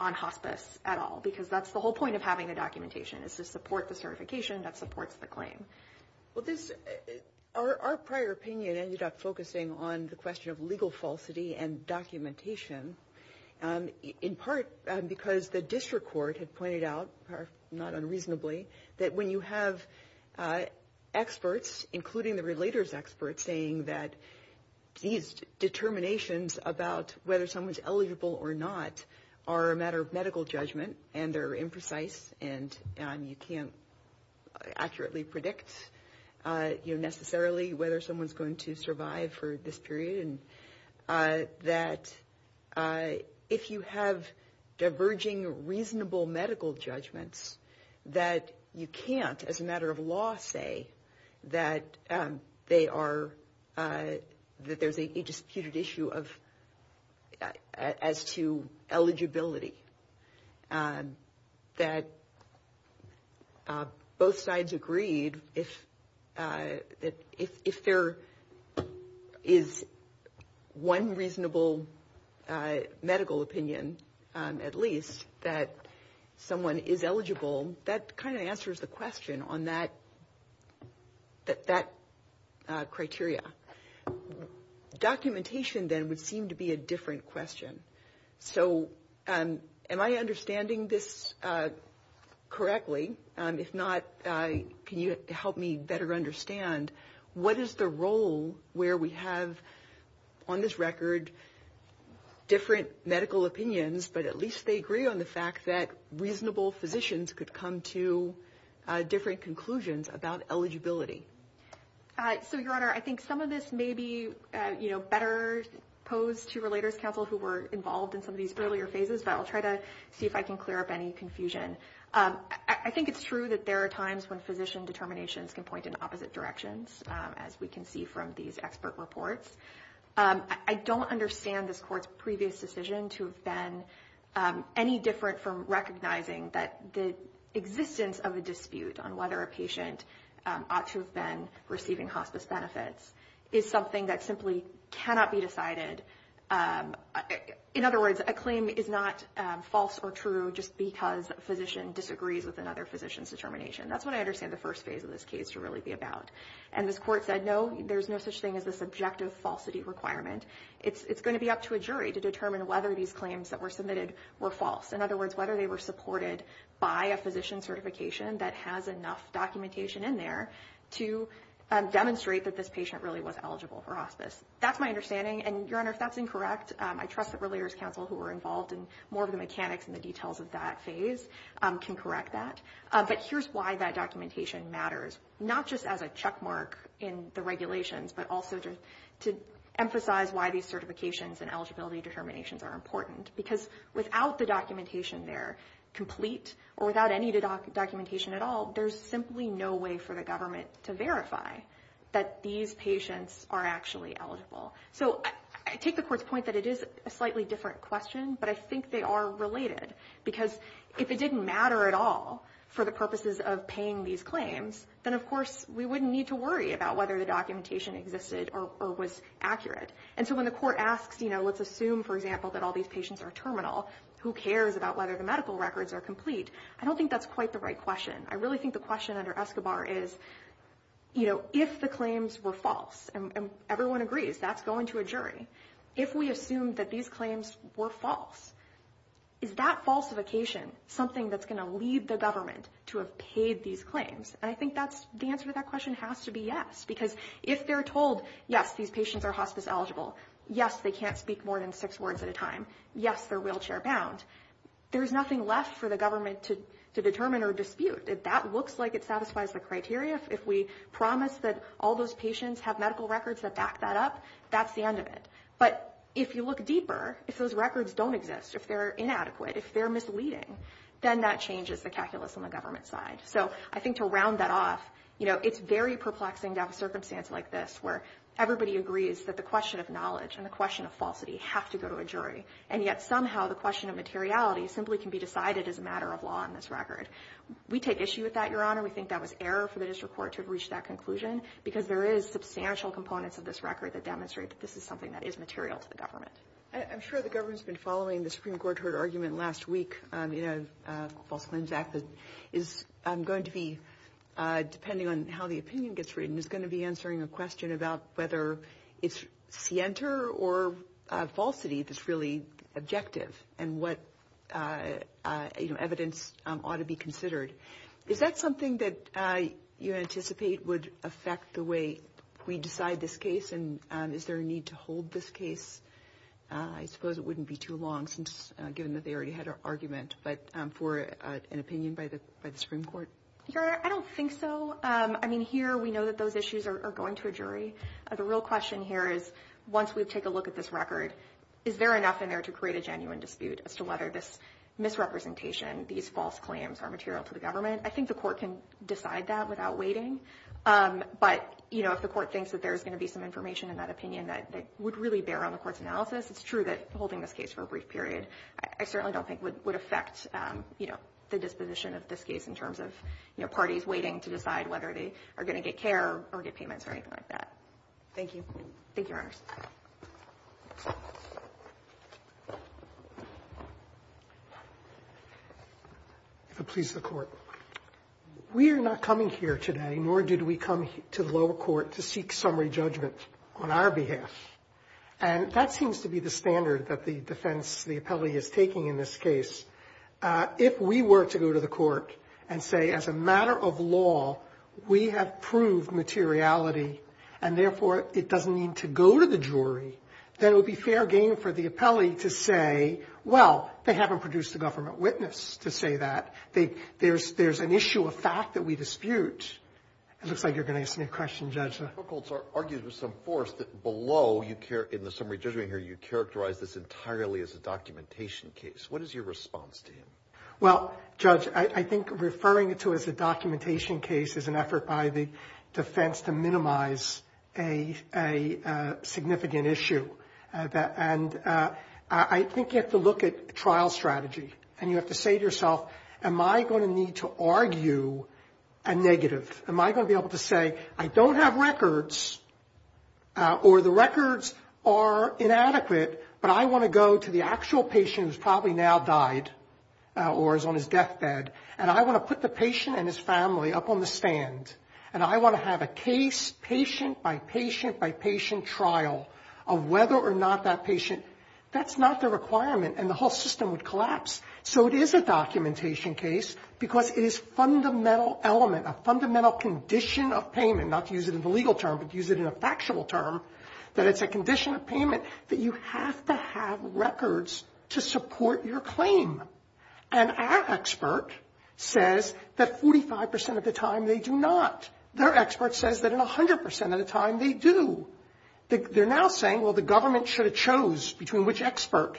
on hospice at all, because that's the whole point of having the documentation is to support the certification that supports the claim. Well, our prior opinion ended up focusing on the question of legal falsity and documentation, in part because the district court had pointed out, not unreasonably, that when you have experts, including the relator's experts, saying that these determinations about whether someone's eligible or not are a matter of medical judgment and they're imprecise and you can't accurately predict necessarily whether someone's going to survive for this period, that if you have diverging reasonable medical judgments that you can't, as a matter of law, say that there's a disputed issue as to eligibility, that both sides agreed that if there is one reasonable medical opinion, at least, that someone is eligible, that kind of answers the question on that criteria. Documentation, then, would seem to be a different question. So am I understanding this correctly? If not, can you help me better understand what is the role where we have, on this record, different medical opinions, but at least they agree on the fact that reasonable physicians could come to different conclusions about eligibility? So, Your Honor, I think some of this may be better posed to relators counsel who were involved in some of these earlier phases, but I'll try to see if I can clear up any confusion. I think it's true that there are times when physician determinations can point in opposite directions, as we can see from these expert reports. I don't understand this Court's previous decision to have been any different from recognizing that the existence of a dispute on whether a patient ought to have been receiving hospice benefits is something that simply cannot be decided. In other words, a claim is not false or true just because a physician disagrees with another physician's determination. That's what I understand the first phase of this case to really be about. And this Court said, no, there's no such thing as a subjective falsity requirement. It's going to be up to a jury to determine whether these claims that were submitted were false. In other words, whether they were supported by a physician certification that has enough documentation in there to demonstrate that this patient really was eligible for hospice. That's my understanding. And, Your Honor, if that's incorrect, I trust that relators counsel who were involved in more of the mechanics and the details of that phase can correct that. But here's why that documentation matters, not just as a checkmark in the regulations, but also to emphasize why these certifications and eligibility determinations are important. Because without the documentation there complete or without any of the documentation at all, there's simply no way for the government to verify that these patients are actually eligible. So I take the Court's point that it is a slightly different question, but I think they are related. Because if it didn't matter at all for the purposes of paying these claims, then, of course, we wouldn't need to worry about whether the documentation existed or was accurate. And so when the Court asks, you know, let's assume, for example, that all these patients are terminal, who cares about whether the medical records are complete? I don't think that's quite the right question. I really think the question under Escobar is, you know, if the claims were false, and everyone agrees, that's going to a jury. If we assume that these claims were false, is that falsification something that's going to lead the government to have paid these claims? And I think the answer to that question has to be yes. Because if they're told, yes, these patients are hospice eligible, yes, they can't speak more than six words at a time, yes, they're wheelchair bound, there's nothing left for the government to determine or dispute. If that looks like it satisfies the criteria, if we promise that all those patients have medical records that back that up, that's the end of it. But if you look deeper, if those records don't exist, if they're inadequate, if they're misleading, then that changes the calculus on the government side. So I think to round that off, you know, it's very perplexing to have a circumstance like this, where everybody agrees that the question of knowledge and the question of falsity have to go to a jury, and yet somehow the question of materiality simply can be decided as a matter of law on this record. We take issue with that, Your Honor. We think that was error for the district court to have reached that conclusion, because there is substantial components of this record that demonstrate that this is something that is material to the government. I'm sure the government's been following the Supreme Court heard argument last week, you know, the False Friends Act is going to be, depending on how the opinion gets written, is going to be answering a question about whether it's scienter or falsity that's really objective, and what, you know, evidence ought to be considered. Is that something that you anticipate would affect the way we decide this case, and is there a need to hold this case? I suppose it wouldn't be too long, given that they already had an argument, but for an opinion by the Supreme Court? Your Honor, I don't think so. I mean, here we know that those issues are going to a jury. The real question here is, once we take a look at this record, is there enough in there to create a genuine dispute as to whether this misrepresentation, these false claims are material to the government? I think the court can decide that without waiting, but, you know, if the court thinks that there's going to be some information in that opinion that would really bear on the court's analysis, it's true that holding this case for a brief period I certainly don't think would affect, you know, the disposition of this case in terms of, you know, parties waiting to decide whether they are going to get care or get payments or anything like that. Thank you. Thank you, Your Honor. If it pleases the court. We are not coming here today, nor did we come to the lower court to seek summary judgment on our behalf, and that seems to be the standard that the defense, the appellee, is taking in this case. If we were to go to the court and say, as a matter of law, we have proved materiality, and therefore it doesn't need to go to the jury, then it would be fair game for the appellee to say, well, they haven't produced a government witness to say that. There's an issue of fact that we dispute. It looks like you're going to ask me a question, Judge. The court argues with some force that below, in the summary judgment here, you characterize this entirely as a documentation case. What is your response to him? Well, Judge, I think referring to it as a documentation case is an effort by the defense to minimize a significant issue, and I think you have to look at trial strategy, and you have to say to yourself, am I going to need to argue a negative? Am I going to be able to say, I don't have records, or the records are inadequate, but I want to go to the actual patient who's probably now died or is on his deathbed, and I want to put the patient and his family up on the stand, and I want to have a case, patient by patient by patient trial of whether or not that patient, that's not the requirement, and the whole system would collapse. So it is a documentation case because it is a fundamental element, a fundamental condition of payment, not to use it as a legal term, but to use it in a factual term, that it's a condition of payment that you have to have records to support your claim. And our expert says that 45% of the time they do not. Their expert says that in 100% of the time they do. They're now saying, well, the government should have chose between which expert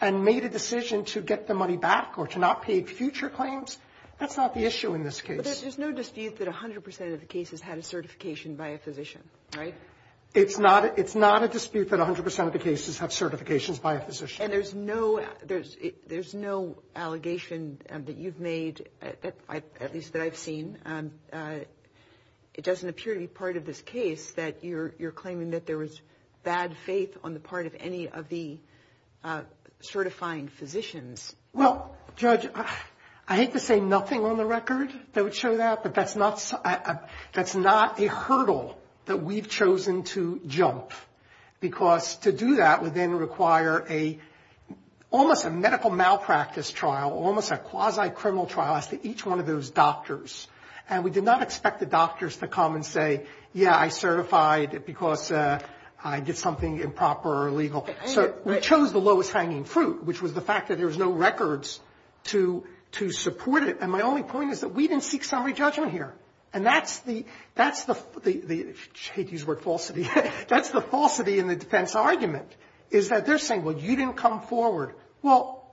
and made a decision to get the money back or to not pay future claims. That's not the issue in this case. But there's no dispute that 100% of the cases had a certification by a physician, right? It's not a dispute that 100% of the cases have certifications by a physician. And there's no allegation that you've made, at least that I've seen, it doesn't appear to be part of this case that you're claiming that there was bad faith on the part of any of the certifying physicians. Well, Judge, I hate to say nothing on the record that would show that, but that's not a hurdle that we've chosen to jump, because to do that would then require almost a medical malpractice trial, almost a quasi-criminal trial after each one of those doctors. And we did not expect the doctors to come and say, yeah, I certified because I did something improper or illegal. So we chose the lowest hanging fruit, which was the fact that there was no records to support it. And my only point is that we didn't seek summary judgment here. And that's the falsity in the defense argument, is that they're saying, well, you didn't come forward. Well,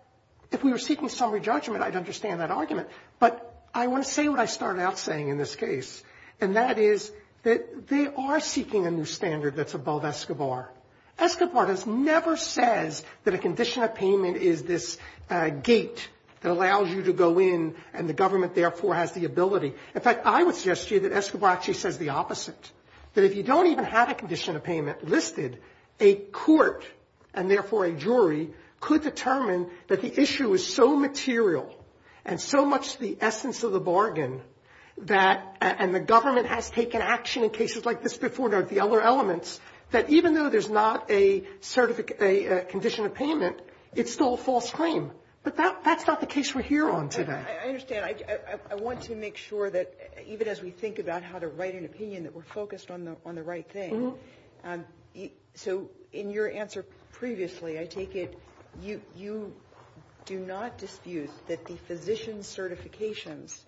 if we were seeking summary judgment, I'd understand that argument. But I want to say what I start out saying in this case, and that is that they are seeking a new standard that's above Escobar. Escobar has never said that a condition of payment is this gate that allows you to go in and the government, therefore, has the ability. In fact, I would suggest to you that Escobar actually says the opposite, that if you don't even have a condition of payment listed, a court, and therefore a jury, could determine that the issue is so material and so much the essence of the bargain, and the government has taken action in cases like this before, the other elements, that even though there's not a condition of payment, it's still a false claim. But that's not the case we're here on today. I understand. I want to make sure that even as we think about how to write an opinion, that we're focused on the right thing. So in your answer previously, I take it you do not dispute that the physician certifications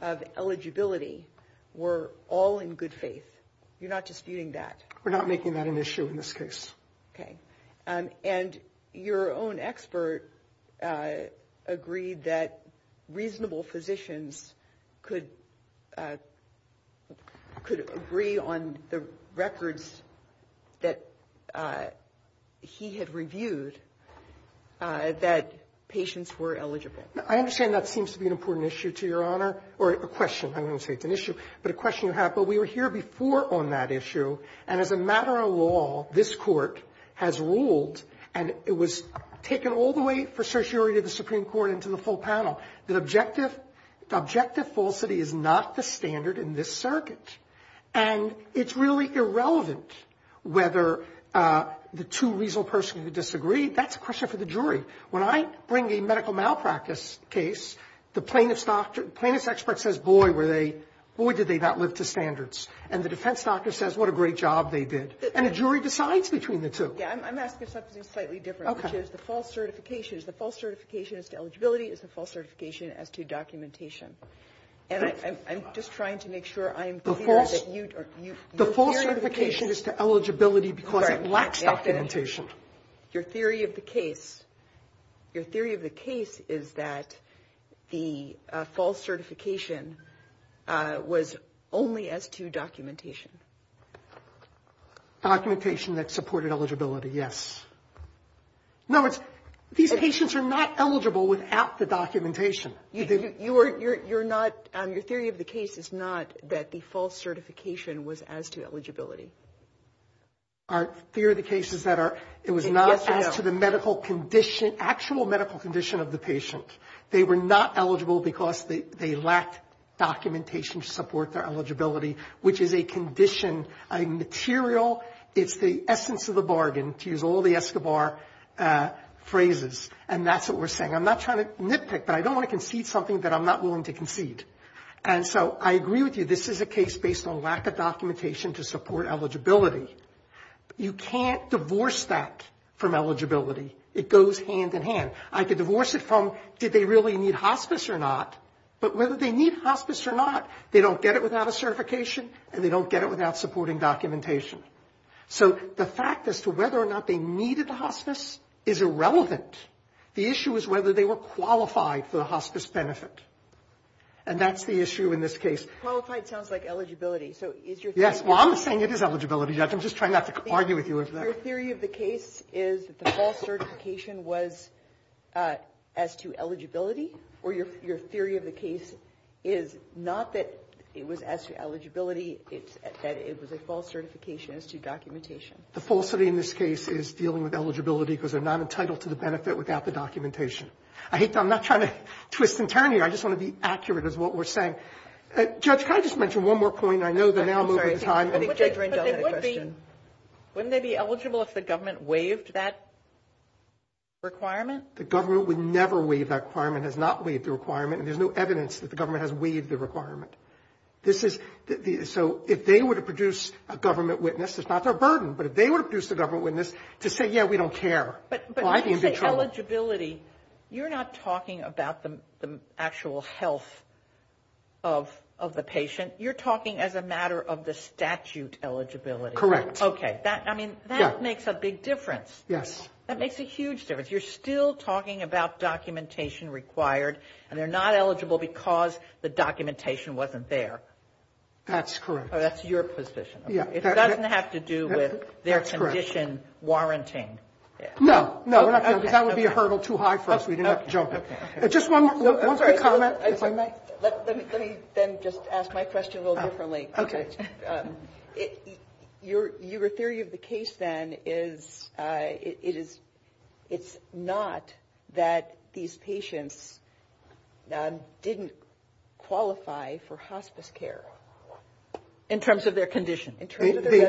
of eligibility were all in good faith. You're not disputing that? We're not making that an issue in this case. Okay. And your own expert agreed that reasonable physicians could agree on the records that he had reviewed that patients were eligible. I understand that seems to be an important issue to Your Honor, or a question, I don't want to say it's an issue, but a question to have, but we were here before on that issue, and as a matter of law, this court has ruled, and it was taken all the way for certiorari of the Supreme Court into the full panel, that objective falsity is not the standard in this circuit. And it's really irrelevant whether the two reasonable persons would disagree. That's a question for the jury. When I bring a medical malpractice case, the plaintiff's expert says, boy, did they not live to standards. And the defense doctor says, what a great job they did. And the jury decides between the two. Yeah, I'm asking something slightly different, which is the false certification. Is the false certification as to eligibility? Is the false certification as to documentation? And I'm just trying to make sure I'm clear. The false certification is to eligibility because it lacks documentation. Your theory of the case. Your theory of the case is that the false certification was only as to documentation. Documentation that supported eligibility, yes. In other words, these patients are not eligible without the documentation. Your theory of the case is not that the false certification was as to eligibility. Our theory of the case is that it was not as to the actual medical condition of the patient. They were not eligible because they lacked documentation to support their eligibility, which is a condition, a material. It's the essence of the bargain, to use all the Escobar phrases. And that's what we're saying. I'm not trying to nitpick, but I don't want to concede something that I'm not willing to concede. And so I agree with you. This is a case based on lack of documentation to support eligibility. You can't divorce that from eligibility. It goes hand in hand. I could divorce it from did they really need hospice or not, but whether they need hospice or not, they don't get it without a certification and they don't get it without supporting documentation. So the fact as to whether or not they needed a hospice is irrelevant. The issue is whether they were qualified for the hospice benefit, and that's the issue in this case. Qualified sounds like eligibility. Yes, well, I'm saying it is eligibility. I'm just trying not to argue with you. Your theory of the case is that the false certification was as to eligibility, or your theory of the case is not that it was as to eligibility. It's that it was a false certification as to documentation. The falsity in this case is dealing with eligibility because they're not entitled to the benefit without the documentation. I'm not trying to twist and turn here. I just want to be accurate as to what we're saying. Judge, can I just mention one more point? I know they're now moving to time. Wouldn't they be eligible if the government waived that requirement? The government would never waive that requirement. It has not waived the requirement, and there's no evidence that the government has waived the requirement. So if they were to produce a government witness, it's not their burden, but if they were to produce a government witness to say, yeah, we don't care. But you say eligibility. You're not talking about the actual health of the patient. You're talking as a matter of the statute eligibility. Correct. Okay. That makes a big difference. Yes. That makes a huge difference. You're still talking about documentation required, and they're not eligible because the documentation wasn't there. That's correct. So that's your position. It doesn't have to do with their condition warranting. No, no. That would be a hurdle too high for us. We didn't have to jump it. Just one quick comment. Let me then just ask my question a little differently. Okay. Your theory of the case then is it's not that these patients didn't qualify for hospice care in terms of their condition. It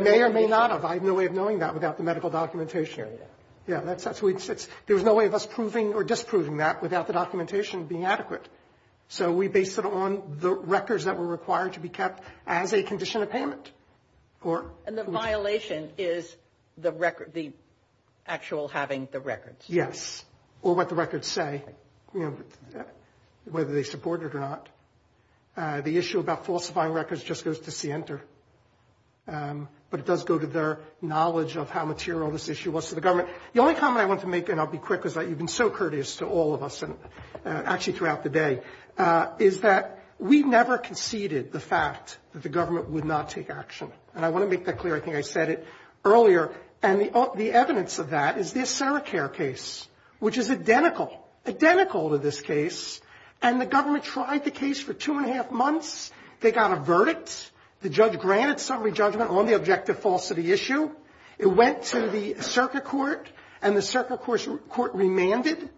may or may not have. I have no way of knowing that without the medical documentation. There's no way of us proving or disproving that without the documentation being adequate. So we based it on the records that were required to be kept as a condition of payment. And the violation is the actual having the records. Yes. Or what the records say, whether they support it or not. The issue about falsifying records just goes to Center. But it does go to their knowledge of how material this issue was to the government. The only comment I want to make, and I'll be quick, is that you've been so courteous to all of us, actually throughout the day, is that we never conceded the fact that the government would not take action. And I want to make that clear. I think I said it earlier. And the evidence of that is this CERA care case, which is identical, identical to this case. And the government tried the case for two and a half months. They got a verdict. The judge granted summary judgment on the objective falsity issue. It went to the CERCA court, and the CERCA court remanded.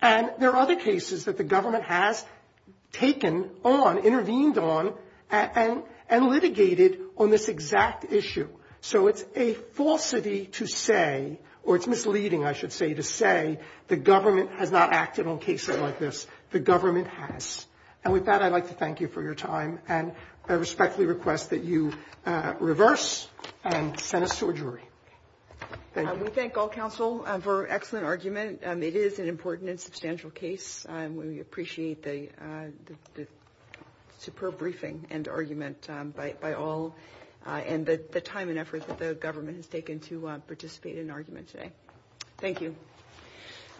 And there are other cases that the government has taken on, intervened on, and litigated on this exact issue. So it's a falsity to say, or it's misleading, I should say, to say the government has not acted on cases like this. The government has. And with that, I'd like to thank you for your time. And I respectfully request that you reverse and send us to a jury. Thank you. We thank all counsel for an excellent argument. It is an important and substantial case. We appreciate the superb briefing and argument by all and the time and effort that the government has taken to participate in arguments today. Thank you.